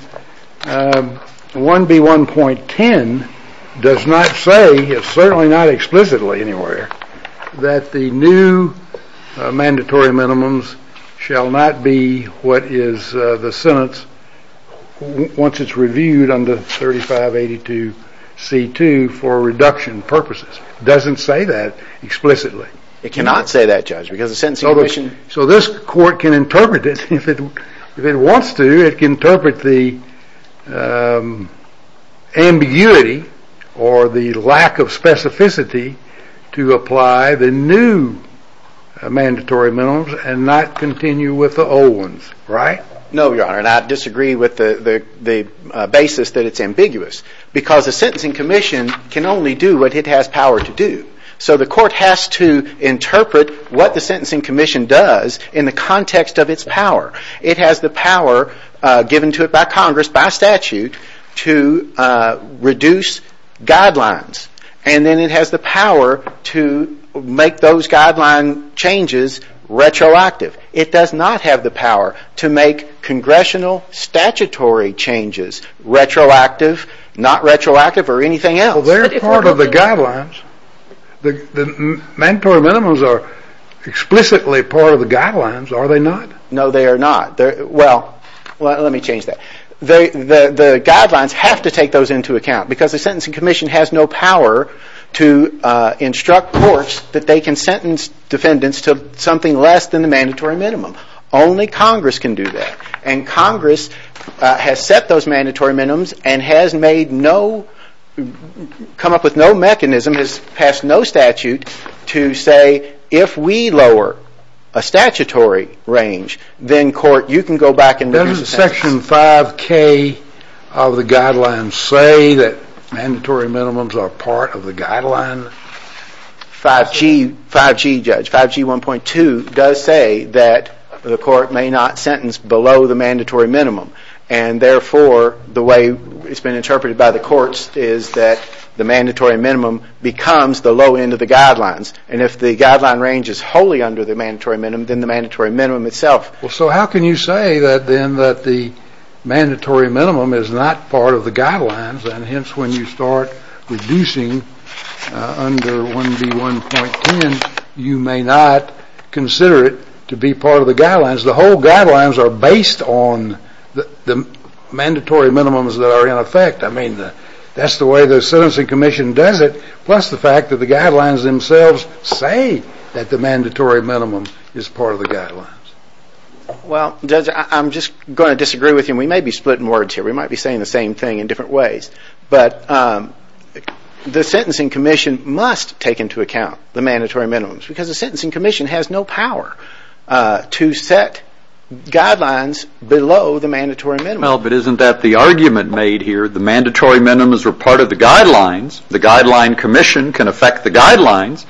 1B1.10 does not say, it's certainly not explicitly anywhere, that the new mandatory minimums shall not be what is the sentence once it's reviewed under 3582C2 for reduction purposes. It doesn't say that explicitly. It cannot say that, Judge, because the Sentencing Commission... So this court can interpret it. If it wants to, it can interpret the ambiguity or the lack of specificity to apply the new mandatory minimums and not continue with the old ones, right? No, Your Honor, and I disagree with the basis that it's ambiguous because the Sentencing Commission can only do what it has power to do. So the court has to interpret what the Sentencing Commission does in the context of its power. It has the power given to it by Congress by statute to reduce guidelines, and then it has the power to make those guideline changes retroactive. It does not have the power to make congressional statutory changes retroactive, not retroactive or anything else. Well, they're part of the guidelines. The mandatory minimums are explicitly part of the guidelines, are they not? No, they are not. Well, let me change that. The guidelines have to take those into account because the Sentencing Commission has no power to instruct courts that they can sentence defendants to something less than the mandatory minimum. Only Congress can do that, and Congress has set those mandatory minimums and has made no, come up with no mechanism, has passed no statute to say if we lower a statutory range, then court, you can go back and read the statute. Doesn't Section 5K of the guidelines say that mandatory minimums are part of the guidelines? 5G, Judge, 5G 1.2 does say that the court may not sentence below the mandatory minimum, and therefore the way it's been interpreted by the courts is that the mandatory minimum becomes the low end of the guidelines, and if the guideline range is wholly under the mandatory minimum, then the mandatory minimum itself. Well, so how can you say then that the mandatory minimum is not part of the guidelines, and hence when you start reducing under 1B1.10, you may not consider it to be part of the guidelines? Because the whole guidelines are based on the mandatory minimums that are in effect. I mean, that's the way the Sentencing Commission does it, plus the fact that the guidelines themselves say that the mandatory minimum is part of the guidelines. Well, Judge, I'm just going to disagree with you. We may be splitting words here. We might be saying the same thing in different ways, but the Sentencing Commission must take into account the mandatory minimums because the Sentencing Commission has no power to set guidelines below the mandatory minimum. Well, but isn't that the argument made here? The mandatory minimums were part of the guidelines. The Guideline Commission can affect the guidelines,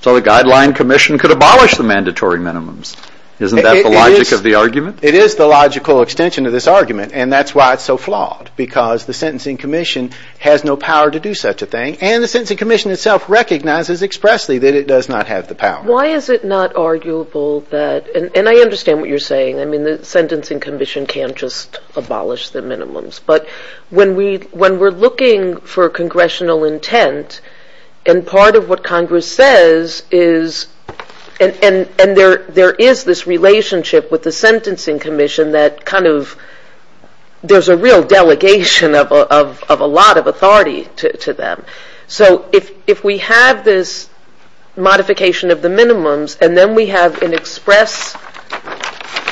so the Guideline Commission could abolish the mandatory minimums. Isn't that the logic of the argument? It is the logical extension of this argument, and that's why it's so flawed, because the Sentencing Commission has no power to do such a thing, and the Sentencing Commission itself recognizes expressly that it does not have the power. Why is it not arguable that – and I understand what you're saying. I mean, the Sentencing Commission can't just abolish the minimums. But when we're looking for congressional intent, and part of what Congress says is – and there is this relationship with the Sentencing Commission that kind of – of a lot of authority to them. So if we have this modification of the minimums, and then we have an express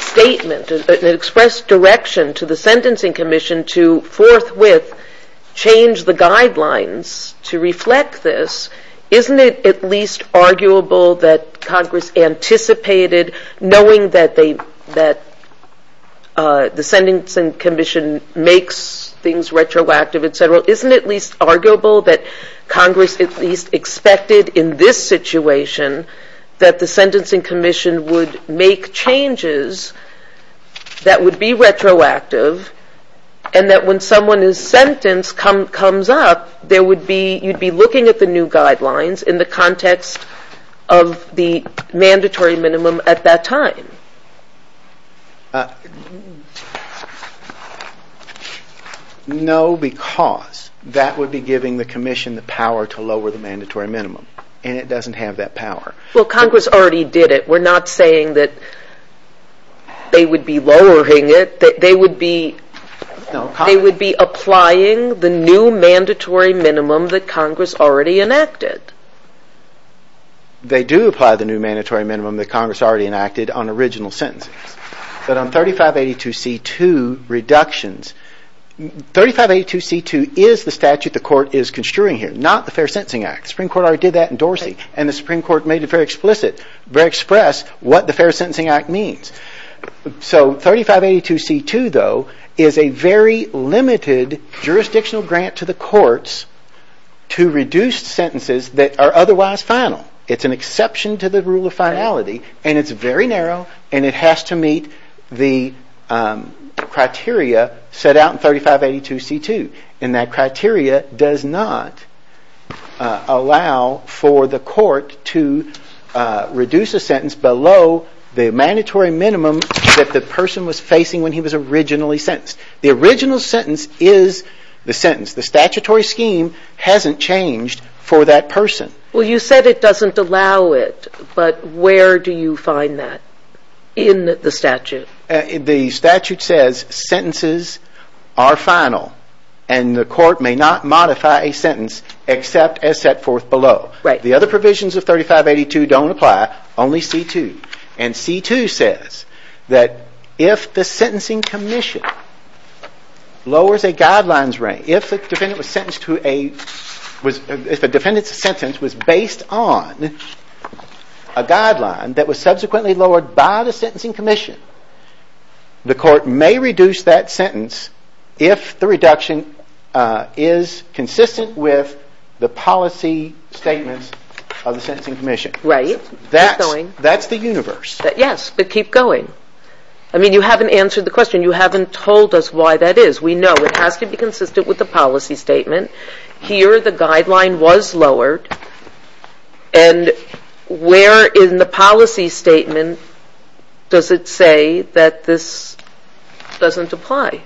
statement, an express direction to the Sentencing Commission to forthwith change the guidelines to reflect this, isn't it at least arguable that Congress anticipated, knowing that the Sentencing Commission makes things retroactive, et cetera, isn't it at least arguable that Congress at least expected in this situation that the Sentencing Commission would make changes that would be retroactive, and that when someone is sentenced comes up, there would be – of the mandatory minimum at that time? No, because that would be giving the Commission the power to lower the mandatory minimum, and it doesn't have that power. Well, Congress already did it. We're not saying that they would be lowering it. They would be applying the new mandatory minimum that Congress already enacted. They do apply the new mandatory minimum that Congress already enacted on original sentences. But on 3582C2 reductions – 3582C2 is the statute the Court is construing here, not the Fair Sentencing Act. The Supreme Court already did that in Dorsey, and the Supreme Court made it very explicit, very express, what the Fair Sentencing Act means. So 3582C2, though, is a very limited jurisdictional grant to the courts to reduce sentences that are otherwise final. It's an exception to the rule of finality, and it's very narrow, and it has to meet the criteria set out in 3582C2, and that criteria does not allow for the court to reduce a sentence below the mandatory minimum that the person was facing when he was originally sentenced. The original sentence is the sentence. The statutory scheme hasn't changed for that person. Well, you said it doesn't allow it, but where do you find that in the statute? The statute says sentences are final, and the court may not modify a sentence except as set forth below. Right. The other provisions of 3582 don't apply, only C2. And C2 says that if the sentencing commission lowers a guidelines range, if a defendant's sentence was based on a guideline that was subsequently lowered by the sentencing commission, the court may reduce that sentence if the reduction is consistent with the policy statement of the sentencing commission. Right. That's the universe. Yes, but keep going. I mean, you haven't answered the question. You haven't told us why that is. We know it has to be consistent with the policy statement. Here the guideline was lowered, and where in the policy statement does it say that this doesn't apply?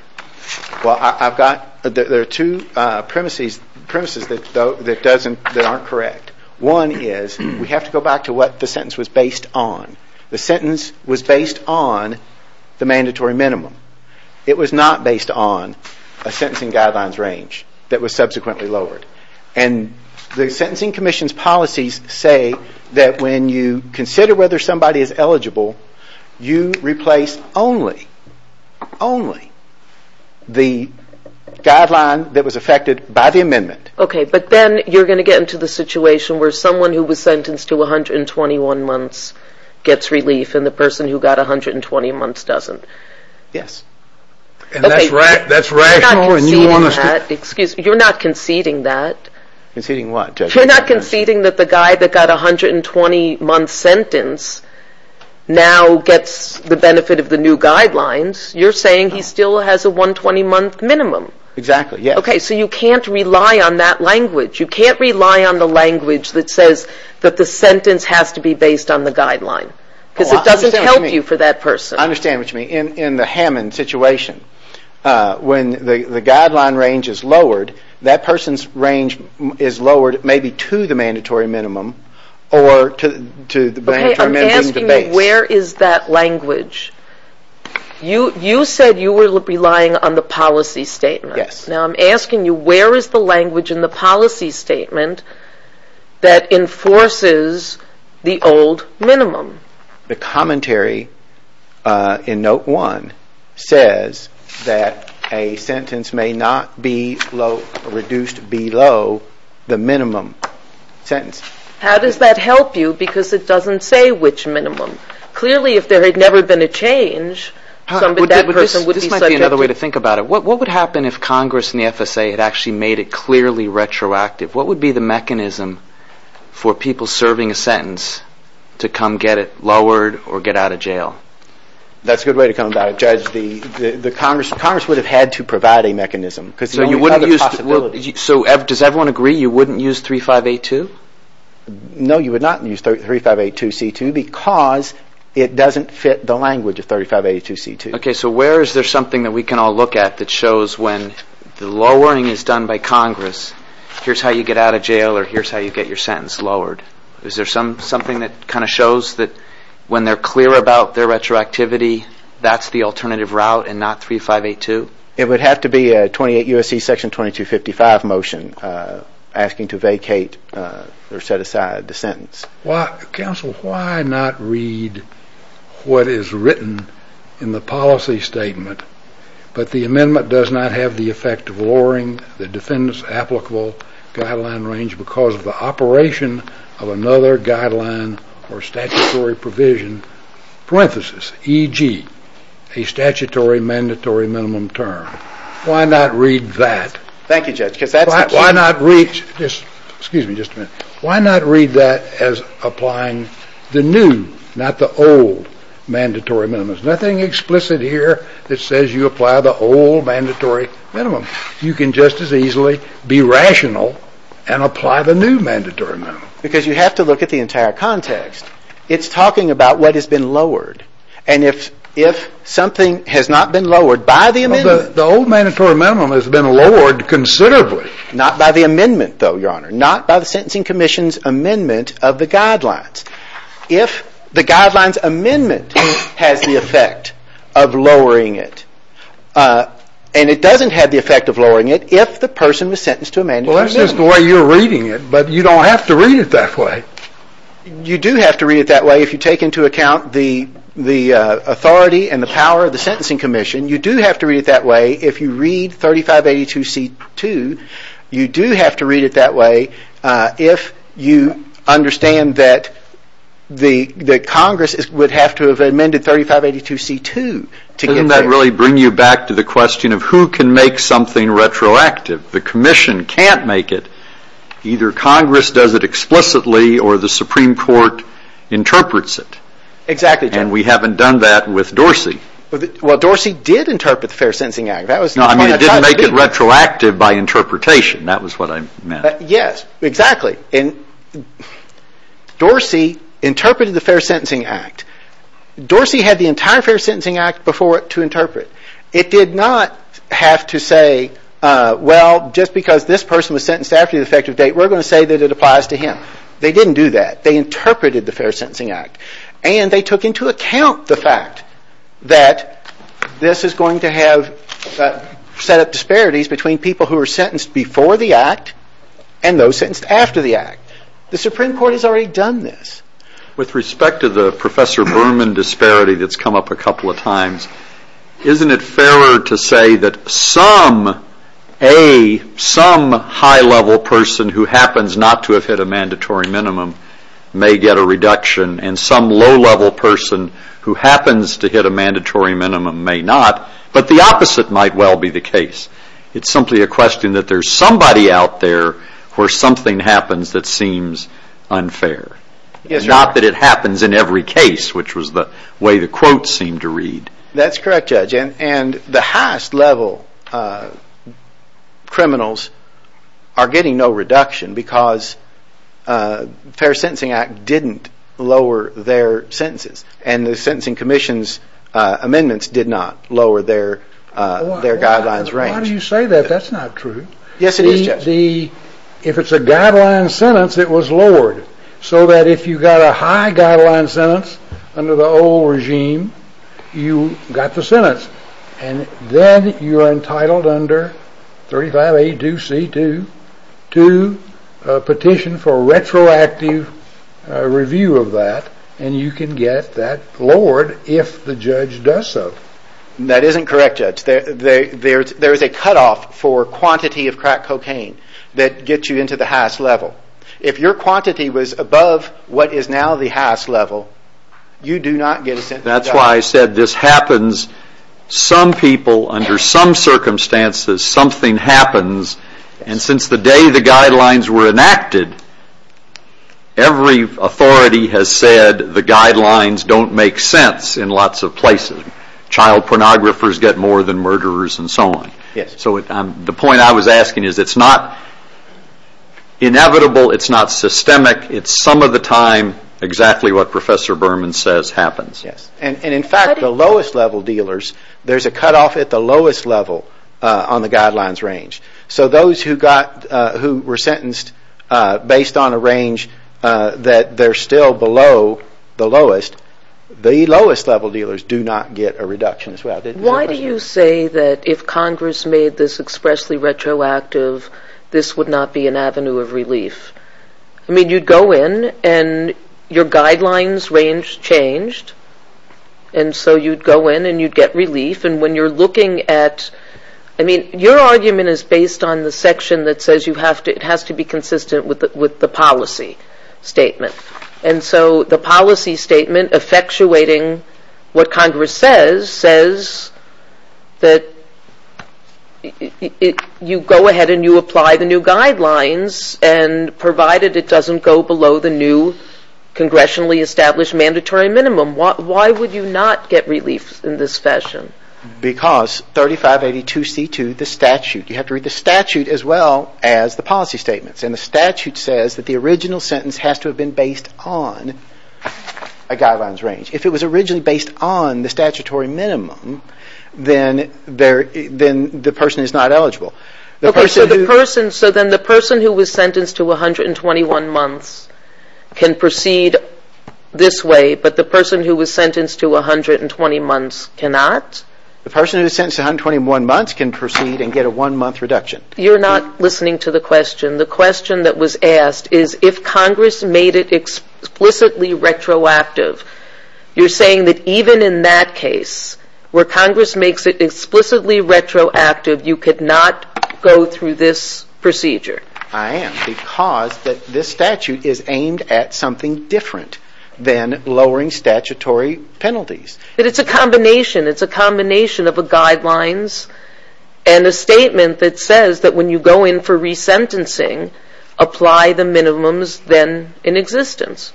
Well, there are two premises that aren't correct. One is we have to go back to what the sentence was based on. The sentence was based on the mandatory minimum. It was not based on a sentencing guidelines range that was subsequently lowered. And the sentencing commission's policies say that when you consider whether somebody is eligible, you replace only the guideline that was affected by the amendment. Okay, but then you're going to get into the situation where someone who was sentenced to 121 months gets relief and the person who got 120 months doesn't. Yes. That's right. You're not conceding that. Conceding what? You're not conceding that the guy that got a 120-month sentence now gets the benefit of the new guidelines. You're saying he still has a 120-month minimum. Exactly, yes. Okay, so you can't rely on that language. You can't rely on the language that says that the sentence has to be based on the guideline. It doesn't help you for that person. I understand what you mean. In the Hammond situation, when the guideline range is lowered, that person's range is lowered maybe to the mandatory minimum or to the mandatory minimum. Okay, I'm asking you where is that language? You said you were relying on the policy statement. Yes. Now I'm asking you where is the language in the policy statement that enforces the old minimum? The commentary in Note 1 says that a sentence may not be reduced below the minimum sentence. How does that help you? Because it doesn't say which minimum. Clearly, if there had never been a change, that person would be subject to it. By the way, to think about it, what would happen if Congress and the FSA had actually made it clearly retroactive? What would be the mechanism for people serving a sentence to come get it lowered or get out of jail? That's a good way to come about it, Judge. Congress would have had to provide a mechanism. Does everyone agree you wouldn't use 3582? No, you would not use 3582c2 because it doesn't fit the language of 3582c2. Okay, so where is there something that we can all look at that shows when the lowering is done by Congress, here's how you get out of jail or here's how you get your sentence lowered? Is there something that kind of shows that when they're clear about their retroactivity, that's the alternative route and not 3582? It would have to be a 28 U.S.C. Section 2255 motion asking to vacate or set aside the sentence. Counsel, why not read what is written in the policy statement, but the amendment does not have the effect of lowering the defendant's applicable guideline range because of the operation of another guideline or statutory provision, parenthesis, e.g., a statutory mandatory minimum term? Why not read that? Thank you, Judge. Excuse me just a minute. Why not read that as applying the new, not the old, mandatory minimum? There's nothing explicit here that says you apply the old mandatory minimum. You can just as easily be rational and apply the new mandatory minimum. Because you have to look at the entire context. It's talking about what has been lowered, and if something has not been lowered by the amendment... The old mandatory minimum has been lowered considerably. Not by the amendment, though, Your Honor. Not by the Sentencing Commission's amendment of the guidelines. If the guideline's amendment has the effect of lowering it, and it doesn't have the effect of lowering it if the person was sentenced to a mandatory minimum. Well, that's just the way you're reading it, but you don't have to read it that way. You do have to read it that way if you take into account the authority and the power of the Sentencing Commission. You do have to read it that way if you read 3582C2. You do have to read it that way if you understand that Congress would have to have amended 3582C2. Doesn't that really bring you back to the question of who can make something retroactive? The Commission can't make it. Either Congress does it explicitly, or the Supreme Court interprets it. Exactly. And we haven't done that with Dorsey. Well, Dorsey did interpret the Fair Sentencing Act. No, I didn't make it retroactive by interpretation. That was what I meant. Yes, exactly. Dorsey interpreted the Fair Sentencing Act. Dorsey had the entire Fair Sentencing Act before it to interpret. It did not have to say, well, just because this person was sentenced after the effective date, we're going to say that it applies to him. They didn't do that. They interpreted the Fair Sentencing Act. And they took into account the fact that this is going to have set up disparities between people who are sentenced before the Act and those sentenced after the Act. The Supreme Court has already done this. With respect to the Professor Berman disparity that's come up a couple of times, isn't it fairer to say that some A, some high-level person who happens not to have hit a mandatory minimum may get a reduction and some low-level person who happens to hit a mandatory minimum may not, but the opposite might well be the case? It's simply a question that there's somebody out there where something happens that seems unfair. Not that it happens in every case, which was the way the quote seemed to read. That's correct, Judge. And the highest-level criminals are getting no reduction because the Fair Sentencing Act didn't lower their sentences, and the Sentencing Commission's amendments did not lower their guidelines range. Why do you say that? That's not true. Yes, it is. If it's a guideline sentence, it was lowered, so that if you got a high guideline sentence under the old regime, you got the sentence, and then you're entitled under 35A2C2 to petition for a retroactive review of that, and you can get that lowered if the judge does so. That isn't correct, Judge. There's a cutoff for quantity of crack cocaine that gets you into the highest level. If your quantity was above what is now the highest level, you do not get a sentence. That's why I said this happens. Some people, under some circumstances, something happens, and since the day the guidelines were enacted, every authority has said the guidelines don't make sense in lots of places. Child pornographers get more than murderers and so on. The point I was asking is it's not inevitable. It's not systemic. It's some of the time exactly what Professor Berman says happens. In fact, the lowest level dealers, there's a cutoff at the lowest level on the guidelines range, so those who were sentenced based on a range that they're still below the lowest, the lowest level dealers do not get a reduction as well. Why do you say that if Congress made this expressly retroactive, this would not be an avenue of relief? You'd go in and your guidelines range changed, and so you'd go in and you'd get relief. Your argument is based on the section that says it has to be consistent with the policy statement. The policy statement effectuating what Congress says says that you go ahead and you apply the new guidelines, and provided it doesn't go below the new congressionally established mandatory minimum, why would you not get relief in this session? Because 3582C2, the statute, you have to read the statute as well as the policy statements, and the statute says that the original sentence has to have been based on a guidelines range. If it was originally based on the statutory minimum, then the person is not eligible. Okay, so then the person who was sentenced to 121 months can proceed this way, but the person who was sentenced to 120 months cannot? The person who was sentenced to 121 months can proceed and get a one-month reduction. You're not listening to the question. The question that was asked is if Congress made it explicitly retroactive. You're saying that even in that case, where Congress makes it explicitly retroactive, you could not go through this procedure? I am, because this statute is aimed at something different than lowering statutory penalties. It's a combination. It's a combination of a guidelines and a statement that says that when you go in for resentencing, apply the minimums then in existence.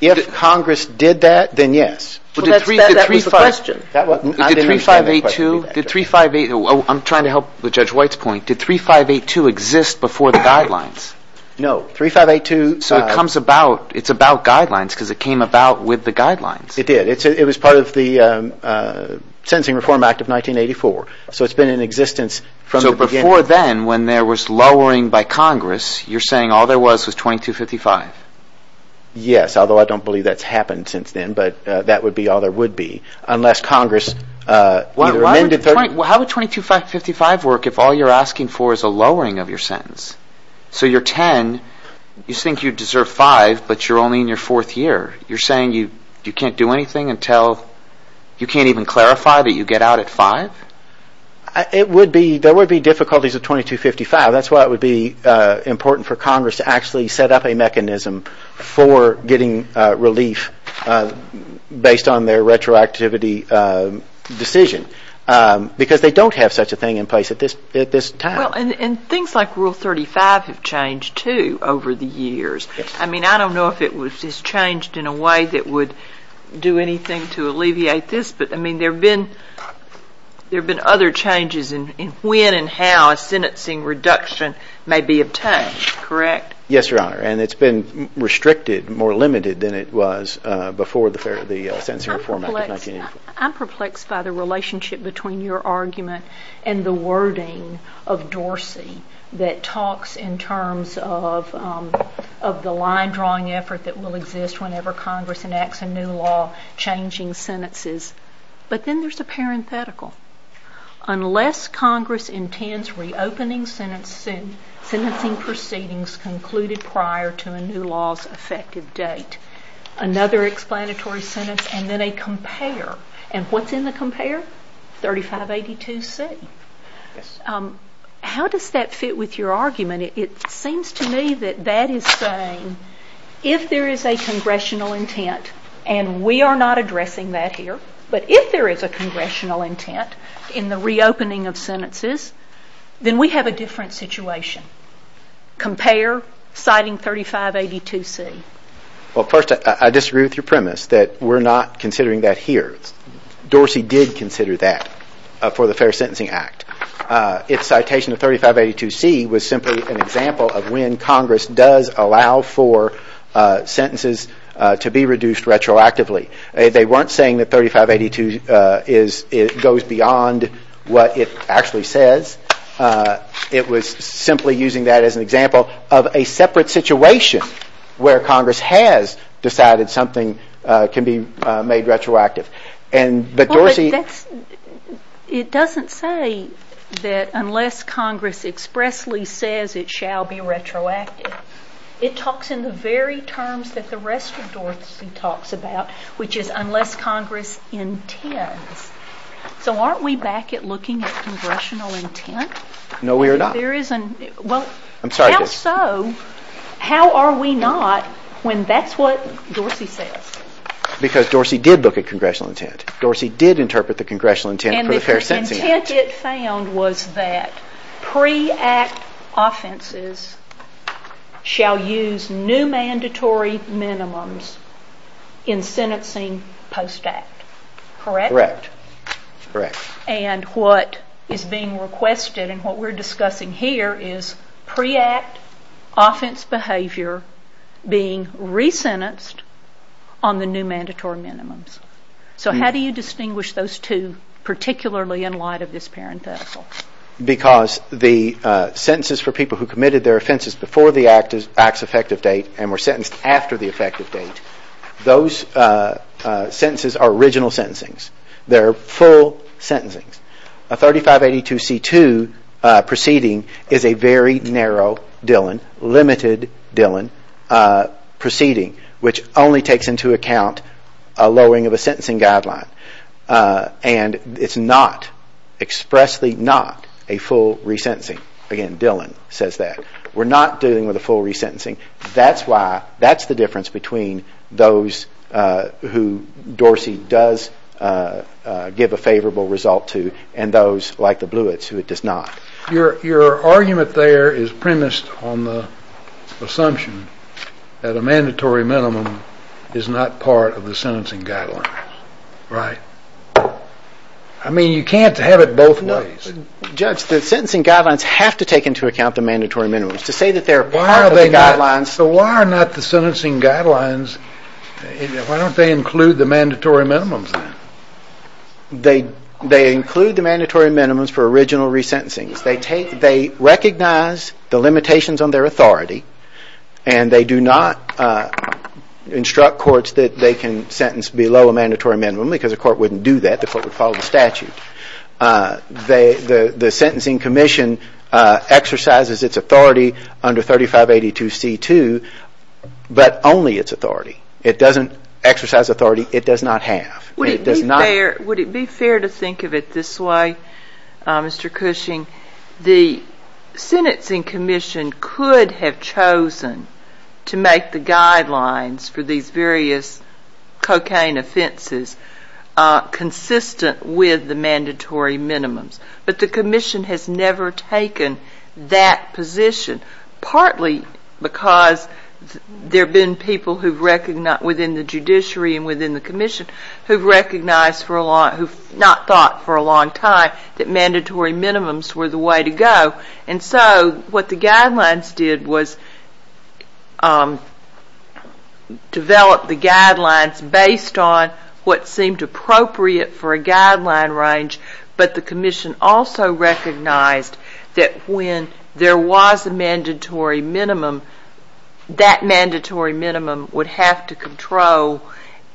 If Congress did that, then yes. That was the question. Did 3582, I'm trying to help with Judge White's point, did 3582 exist before the guidelines? No. It's about guidelines because it came about with the guidelines. It did. It was part of the Sentencing Reform Act of 1984, so it's been in existence from the beginning. Before then, when there was lowering by Congress, you're saying all there was was 2255? Yes, although I don't believe that's happened since then, but that would be all there would be, unless Congress amended it. How would 2255 work if all you're asking for is a lowering of your sentence? You're 10. You think you deserve five, but you're only in your fourth year. You're saying you can't do anything until you can't even clarify that you get out at five? There would be difficulties with 2255. That's why it would be important for Congress to actually set up a mechanism for getting relief based on their retroactivity decision because they don't have such a thing in place at this time. Things like Rule 35 have changed, too, over the years. I don't know if it has changed in a way that would do anything to alleviate this, but there have been other changes in when and how a sentencing reduction may be obtained, correct? Yes, Your Honor, and it's been restricted, more limited than it was before the Sentencing Reform Act of 1984. I'm perplexed by the relationship between your argument and the wording of Dorsey that talks in terms of the line-drawing effort that will exist whenever Congress enacts a new law changing sentences, but then there's the parenthetical. Unless Congress intends reopening sentencing proceedings concluded prior to a new law's effective date. Another explanatory sentence and then a compare, and what's in the compare? 3582C. How does that fit with your argument? It seems to me that that is saying if there is a congressional intent, and we are not addressing that here, but if there is a congressional intent in the reopening of sentences, then we have a different situation. Compare, citing 3582C. Well, first, I disagree with your premise that we're not considering that here. Dorsey did consider that for the Fair Sentencing Act. Its citation of 3582C was simply an example of when Congress does allow for sentences to be reduced retroactively. They weren't saying that 3582 goes beyond what it actually says. It was simply using that as an example of a separate situation where Congress has decided something can be made retroactive. It doesn't say that unless Congress expressly says it shall be retroactive. It talks in the very terms that the rest of Dorsey talks about, which is unless Congress intends. So aren't we back at looking at congressional intent? No, we are not. Well, how so? How are we not when that's what Dorsey says? Because Dorsey did look at congressional intent. Dorsey did interpret the congressional intent for the Fair Sentencing Act. And the intent it found was that pre-Act offenses shall use new mandatory minimums in sentencing post-Act. Correct? Correct. And what is being requested and what we're discussing here is pre-Act offense behavior being resentenced on the new mandatory minimums. So how do you distinguish those two, particularly in light of this parenthesis? Because the sentences for people who committed their offenses before the Act's effective date and were sentenced after the effective date, those sentences are original sentencing. They're full sentencing. A 3582C2 proceeding is a very narrow, Dylan, limited, Dylan proceeding, which only takes into account a lowering of a sentencing guideline. And it's not, expressly not, a full resentencing. Again, Dylan says that. We're not dealing with a full resentencing. That's why, that's the difference between those who Dorsey does give a favorable result to and those like the Bluets who it does not. Your argument there is premised on the assumption that a mandatory minimum is not part of the sentencing guidelines. Right? I mean, you can't have it both ways. Judge, the sentencing guidelines have to take into account the mandatory minimums. To say that they're part of the guidelines. So why are not the sentencing guidelines, why don't they include the mandatory minimums? They include the mandatory minimums for original resentencing. They recognize the limitations on their authority, and they do not instruct courts that they can sentence below a mandatory minimum because a court wouldn't do that. The court would follow the statute. The sentencing commission exercises its authority under 3582C2, but only its authority. It doesn't exercise authority, it does not have. Would it be fair to think of it this way, Mr. Cushing? The sentencing commission could have chosen to make the guidelines for these various cocaine offenses consistent with the mandatory minimums, but the commission has never taken that position, partly because there have been people within the judiciary and within the commission who have not thought for a long time that mandatory minimums were the way to go. So what the guidelines did was develop the guidelines based on what seemed appropriate for a guideline range, but the commission also recognized that when there was a mandatory minimum, that mandatory minimum would have to control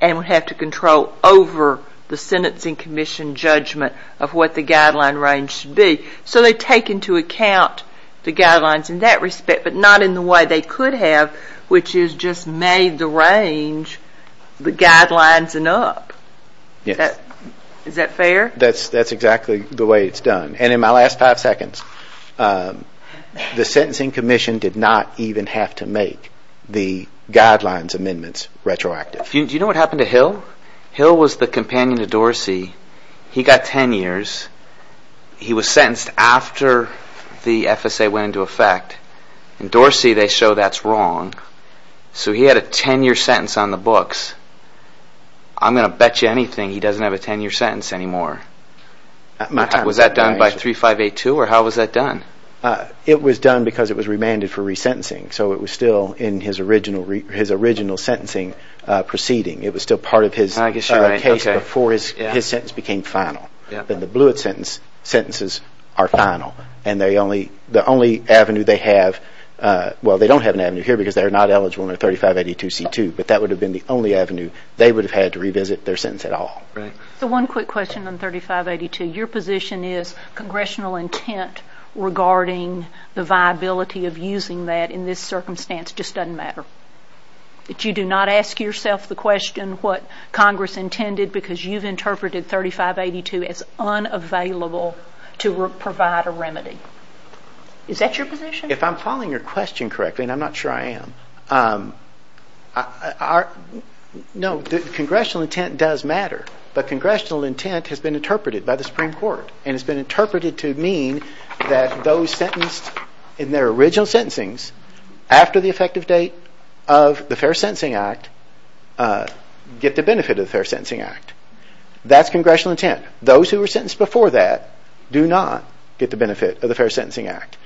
over the sentencing commission judgment of what the guideline range should be. So they take into account the guidelines in that respect, but not in the way they could have, which is just made the range, the guidelines, and up. Is that fair? That's exactly the way it's done. And in my last five seconds, the sentencing commission did not even have to make the guidelines amendments retroactive. Do you know what happened to Hill? Hill was the companion to Dorsey. He got 10 years. He was sentenced after the FSA went into effect, and Dorsey, they show that's wrong. So he had a 10-year sentence on the books. I'm going to bet you anything he doesn't have a 10-year sentence anymore. Was that done by 3582, or how was that done? It was done because it was remanded for resentencing, so it was still in his original sentencing proceeding. It was still part of his case before his sentence became final. In the Blewett sentence, sentences are final. And the only avenue they have, well, they don't have an avenue here because they're not eligible under 3582C2, but that would have been the only avenue they would have had to revisit their sentence at all. So one quick question on 3582. Your position is congressional intent regarding the viability of using that in this circumstance just doesn't matter. You do not ask yourself the question what Congress intended because you've interpreted 3582 as unavailable to provide a remedy. Is that your position? If I'm following your question correctly, and I'm not sure I am, no, congressional intent does matter. But congressional intent has been interpreted by the Supreme Court, and it's been interpreted to mean that those sentenced in their original sentencing, after the effective date of the Fair Sentencing Act, get the benefit of the Fair Sentencing Act. That's congressional intent. Those who were sentenced before that do not get the benefit of the Fair Sentencing Act.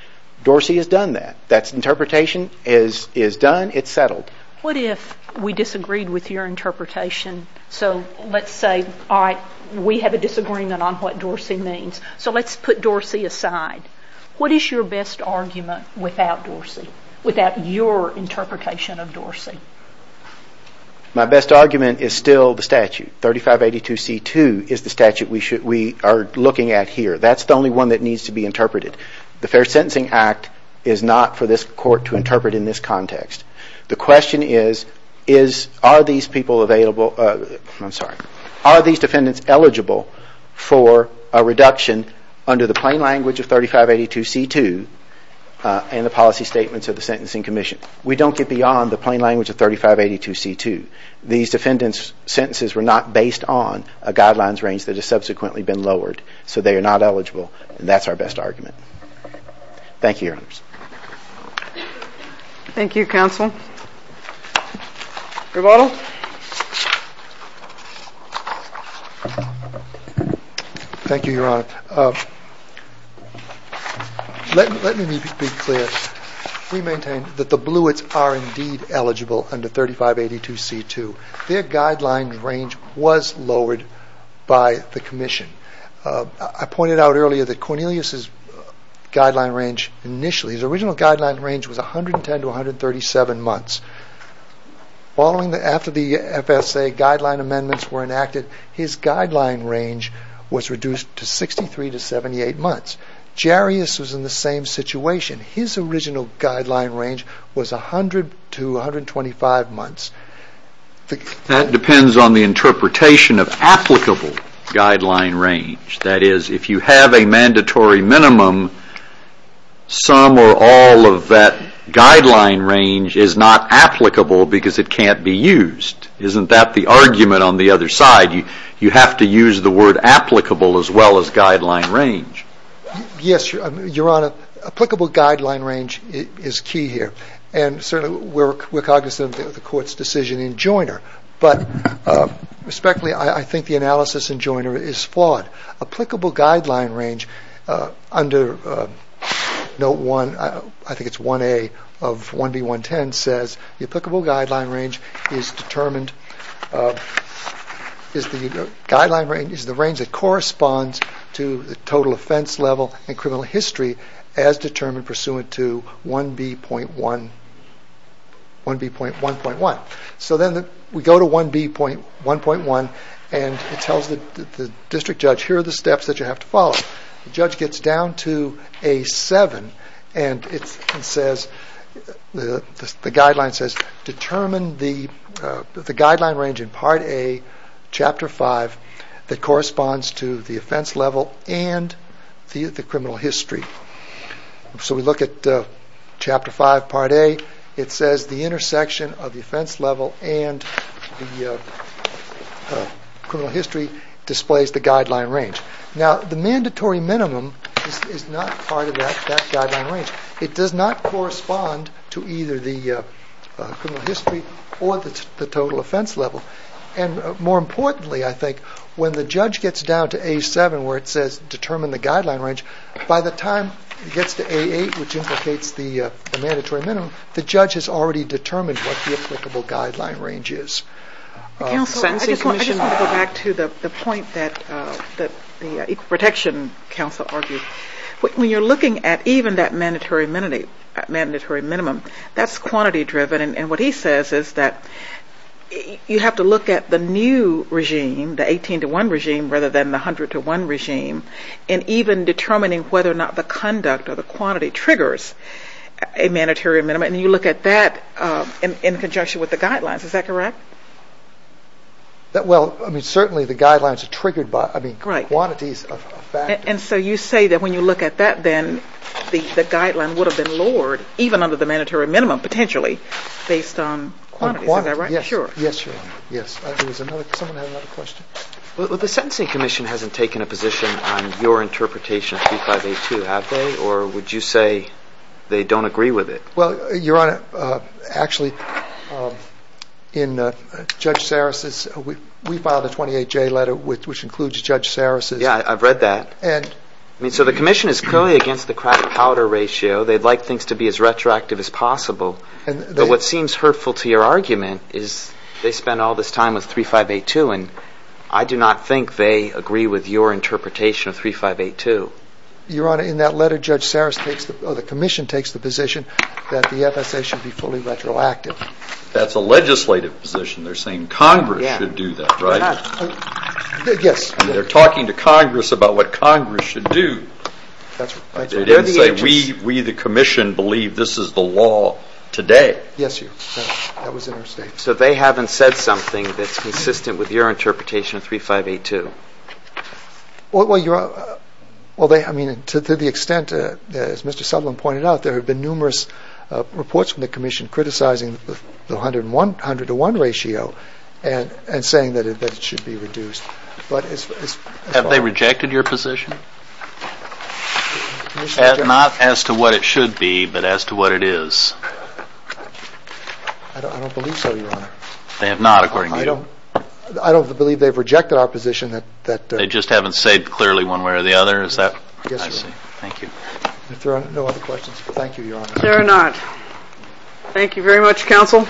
Dorsey has done that. That interpretation is done. It's settled. What if we disagreed with your interpretation? So let's say, all right, we have a disagreement on what Dorsey means. So let's put Dorsey aside. What is your best argument without Dorsey, without your interpretation of Dorsey? My best argument is still the statute. 3582C2 is the statute we are looking at here. That's the only one that needs to be interpreted. The Fair Sentencing Act is not for this court to interpret in this context. The question is, are these defendants eligible for a reduction under the plain language of 3582C2 and the policy statements of the Sentencing Commission? We don't get beyond the plain language of 3582C2. These defendants' sentences were not based on a guidelines range that has subsequently been lowered, so they are not eligible, and that's our best argument. Thank you, Your Honors. Thank you, Counsel. Your Honors? Thank you, Your Honors. Let me be clear. We maintain that the Blewitts are indeed eligible under 3582C2. Their guideline range was lowered by the Commission. I pointed out earlier that Cornelius' guideline range initially, his original guideline range was 110 to 137 months. After the FSA guideline amendments were enacted, his guideline range was reduced to 63 to 78 months. Jarius was in the same situation. His original guideline range was 100 to 125 months. That depends on the interpretation of applicable guideline range. That is, if you have a mandatory minimum, some or all of that guideline range is not applicable because it can't be used. Isn't that the argument on the other side? You have to use the word applicable as well as guideline range. Yes, Your Honor. Applicable guideline range is key here. We're cognizant of the Court's decision in Joyner. Respectfully, I think the analysis in Joyner is flawed. Applicable guideline range under Note 1A of 1B.110 says, The applicable guideline range is the range that corresponds to the total offense level and criminal history as determined pursuant to 1B.1.1. Then we go to 1B.1.1 and it tells the district judge, here are the steps that you have to follow. The judge gets down to A7 and the guideline says, Determine the guideline range in Part A, Chapter 5, that corresponds to the offense level and the criminal history. We look at Chapter 5, Part A. It says the intersection of the offense level and the criminal history displays the guideline range. Now, the mandatory minimum is not part of that guideline range. It does not correspond to either the criminal history or the total offense level. More importantly, I think, when the judge gets down to A7 where it says, Determine the guideline range, by the time he gets to A8, which implicates the mandatory minimum, the judge has already determined what the applicable guideline range is. I just want to go back to the point that the Equal Protection Council argues. When you're looking at even that mandatory minimum, that's quantity driven. What he says is that you have to look at the new regime, the 18 to 1 regime, rather than the 100 to 1 regime, and even determining whether or not the conduct or the quantity triggers a mandatory minimum. You look at that in conjunction with the guidelines. Is that correct? Certainly, the guidelines are triggered by quantities of facts. You say that when you look at that, then, the guideline would have been lowered, even under the mandatory minimum, potentially, based on quantities. Is that right? Yes, Your Honor. The Sentencing Commission hasn't taken a position on your interpretation of C582, have they? Or would you say they don't agree with it? Well, Your Honor, actually, in Judge Sarris's... We filed a 28-J letter, which includes Judge Sarris's... Yeah, I've read that. So the Commission is clearly against the crowded-cowder ratio. They'd like things to be as retroactive as possible. But what seems hurtful to your argument is they spend all this time with 3582, and I do not think they agree with your interpretation of 3582. Your Honor, in that letter, Judge Sarris... Oh, the Commission takes the position that the FSA should be fully retroactive. That's a legislative position. They're saying Congress should do that, right? Yes. They're talking to Congress about what Congress should do. That's right. They didn't say, we, the Commission, believe this is the law today. Yes, Your Honor. That was in our state. So they haven't said something that's consistent with your interpretation of 3582. Well, I mean, to the extent, as Mr. Sutherland pointed out, there have been numerous reports from the Commission criticizing the 100-to-1 ratio and saying that it should be reduced. Have they rejected your position? Not as to what it should be, but as to what it is. I don't believe so, Your Honor. They have not, according to you. I don't believe they've rejected our position. They just haven't said clearly one way or the other, is that right? Yes, Your Honor. Thank you. If there are no other questions, thank you, Your Honor. There are not. Thank you very much, counsel.